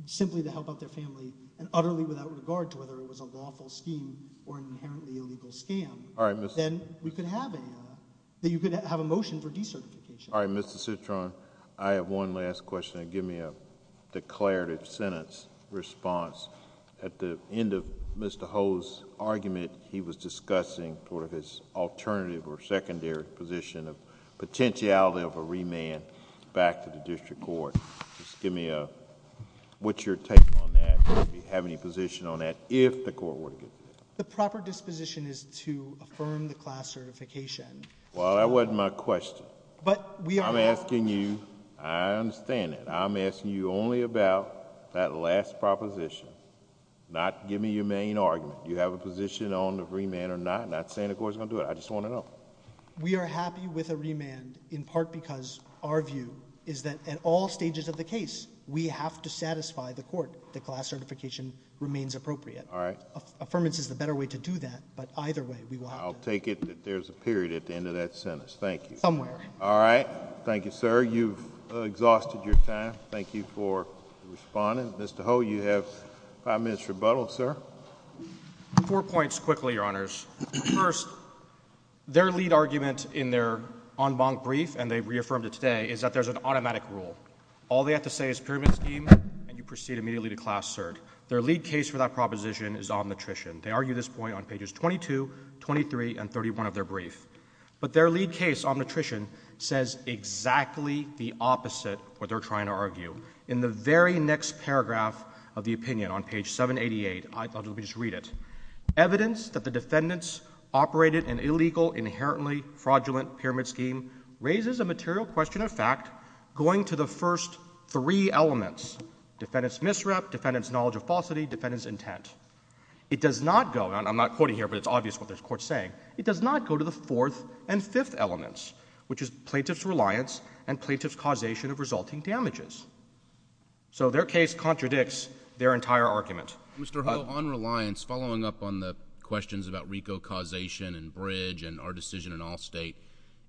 simply to help out their family and utterly without regard to whether it was a lawful scheme or an inherently illegal scam, then we could have it. You could have a motion for decertification. All right, Mr. Citron, I have one last question. Give me a declarative sentence response. At the end of Mr. Ho's argument, he was discussing sort of his alternative or secondary position of potentiality of a remand back to the district court. Just give me a... what's your take on that? Would you have any position on that if the court were to... The proper disposition is to affirm the class certification. Well, that wasn't my question. But we are... I'm asking you... I understand it. I'm asking you only about that last proposition, not give me your main argument. Do you have a position on the remand or not? Not saying the court's going to do it. I just want to know. We are happy with a remand in part because our view is that at all stages of the case, we have to satisfy the court that class certification remains appropriate. All right. Affirmance is the better way to do that, but either way, we will have... I'll take it that there's a period at the end of that sentence. Thank you. Somewhere. All right. Thank you, sir. You've exhausted your time. Thank you for responding. Mr. Ho, you have five minutes rebuttal, sir. Four points quickly, Your Honors. First, their lead argument in their en banc brief, and they reaffirmed it today, is that there's an automatic rule. All they have to say is pyramid scheme, and you proceed immediately to class cert. Their lead case for that proposition is omnitritian. They argue this point on pages 22, 23, and 31 of their brief. But their lead case, omnitritian, says exactly the opposite of what they're trying to argue. In the very next paragraph of the opinion on page 788, let me just read it. Evidence that the defendants operated an illegal, inherently fraudulent pyramid scheme raises a material question of fact going to the first three elements, defendant's misrep, defendant's knowledge of falsity, defendant's intent. It does not go, and I'm not quoting here, but it's obvious what this court's saying, it does not go to the fourth and fifth elements, which is plaintiff's reliance and plaintiff's causation of resulting damages. So their case contradicts their entire argument. Mr. Ho, on reliance, following up on the questions about RICO causation and Bridge and our decision in Allstate,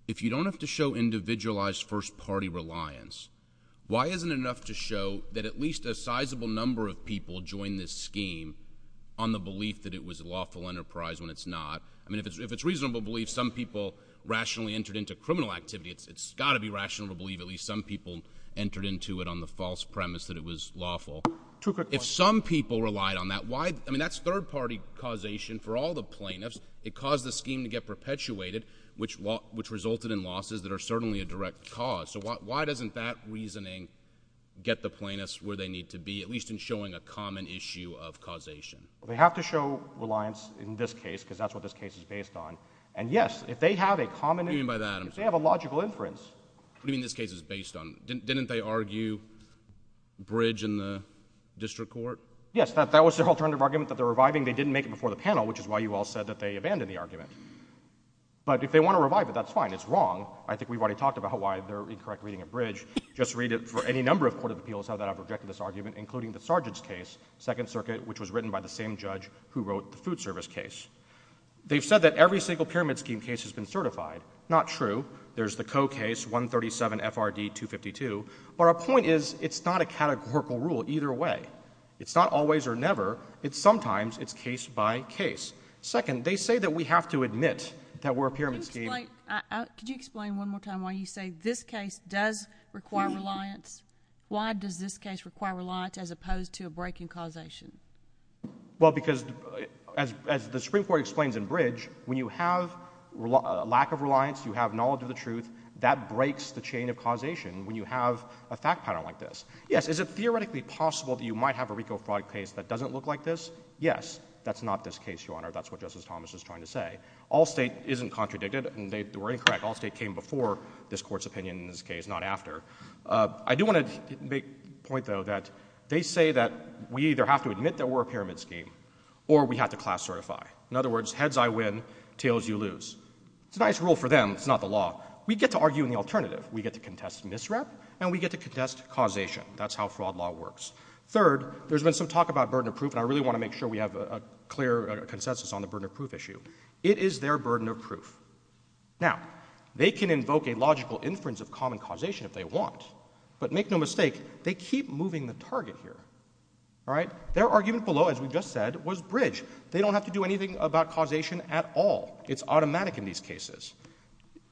if you don't have to show individualized, first-party reliance, why isn't it enough to show that at least a sizable number of people joined this scheme on the belief that it was a lawful enterprise when it's not? I mean, if it's reasonable belief, some people rationally entered into criminal activity. It's got to be rational to believe at least some people entered into it on the false premise that it was lawful. If some people relied on that, why, I mean, that's third-party causation for all the plaintiffs. It caused the scheme to get perpetuated, which resulted in losses that are certainly a direct cause. So why doesn't that reasoning get the plaintiffs where they need to be, at least in showing a common issue of causation? They have to show reliance in this case because that's what this case is based on. And yes, if they have a common... What do you mean by that? If they have a logical inference... What do you mean this case is based on? Didn't they argue Bridge in the district court? Yes, that was their alternative argument that they're reviving. They didn't make it before the panel, which is why you all said that they abandoned the argument. But if they want to revive it, that's fine. It's wrong. I think we've already talked about why they're incorrect reading of Bridge. Just read it for any number of court of appeals that have rejected this argument, including the Sargent's case, 2nd Circuit, which was written by the same judge who wrote the food service case. They've said that every single Pyramid Scheme case has been certified. Not true. There's the Coe case, 137 FRD 252. But our point is, it's not a categorical rule either way. It's not always or never. Sometimes it's case by case. Second, they say that we have to admit that we're a Pyramid Scheme... Could you explain one more time why you say this case does require reliance? Why does this case require reliance as opposed to a breaking causation? Well, because as the Supreme Court explains in Bridge, when you have a lack of reliance, you have knowledge of the truth, that breaks the chain of causation when you have a fact pattern like this. Yes, is it theoretically possible that you might have a RICO fraud case that doesn't look like this? Yes, that's not this case, Your Honor. That's what Justice Thomas is trying to say. All State isn't contradicted, and they were incorrect. All State came before this Court's opinion in this case, not after. I do want to make a point, though, that they say that we either have to admit that we're a Pyramid Scheme, or we have to class certify. In other words, heads I win, tails you lose. It's a nice rule for them. It's not the law. We get to argue in the alternative. We get to contest misrep, and we get to contest causation. That's how fraud law works. Third, there's been some talk about burden of proof, and I really want to make sure we have a clear consensus on the burden of proof issue. It is their burden of proof. Now, they can invoke a logical inference of common causation if they want, but make no mistake, they keep moving the target here, all right? Their argument below, as we've just said, was bridge. They don't have to do anything about causation at all. It's automatic in these cases.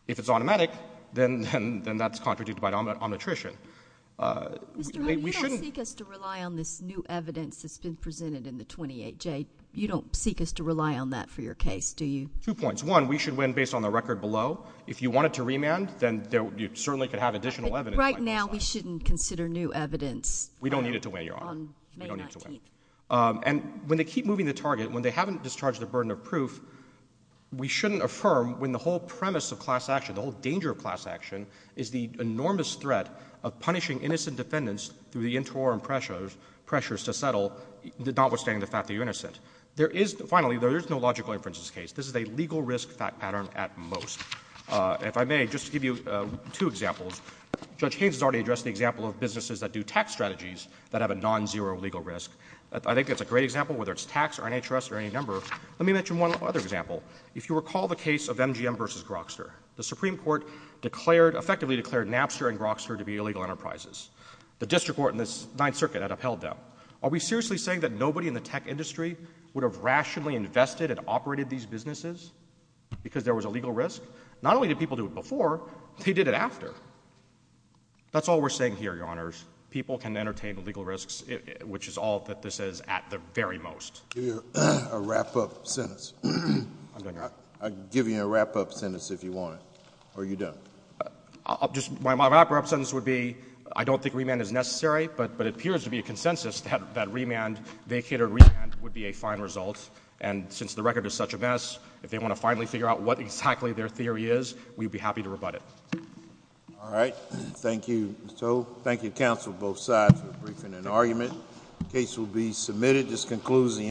If it's automatic, then that's contradicted by omnitrition. We shouldn't... Mr. Hove, you don't seek us to rely on this new evidence that's been presented in the 28J. You don't seek us to rely on that for your case, do you? Two points. One, we should win based on the record below. If you wanted to remand, then you certainly could have additional evidence. Right now, we shouldn't consider new evidence. We don't need it to win, Your Honor. We don't need it to win. And when they keep moving the target, when they haven't discharged the burden of proof, we shouldn't affirm when the whole premise of class action, the whole danger of class action, is the enormous threat of punishing innocent defendants through the interim pressures to settle, notwithstanding the fact that you're innocent. Finally, there is no logical inference in this case. This is a legal risk pattern at most. If I may, just to give you two examples. Judge Haynes has already addressed the example of businesses that do tax strategies that have a non-zero legal risk. I think that's a great example, whether it's tax or NHS or any number. Let me mention one other example. If you recall the case of MGM v. Grokster, the Supreme Court effectively declared Napster and Grokster to be illegal enterprises. The district court in the Ninth Circuit had upheld them. Are we seriously saying that nobody in the tech industry would have rationally invested and operated these businesses because there was a legal risk? Not only did people do it before, they did it after. That's all we're saying here, Your Honors. People can entertain legal risks, which is all that this is at the very most. I'll give you a wrap-up sentence if you want it, or you don't. My wrap-up sentence would be, I don't think remand is necessary, but it appears to be a consensus that remand, vacated remand, would be a fine result. And since the record is such a mess, if they want to finally figure out what exactly their theory is, we'd be happy to rebut it. All right. Thank you, Mr. Ho. Thank you, counsel, both sides, for briefing and argument. The case will be submitted.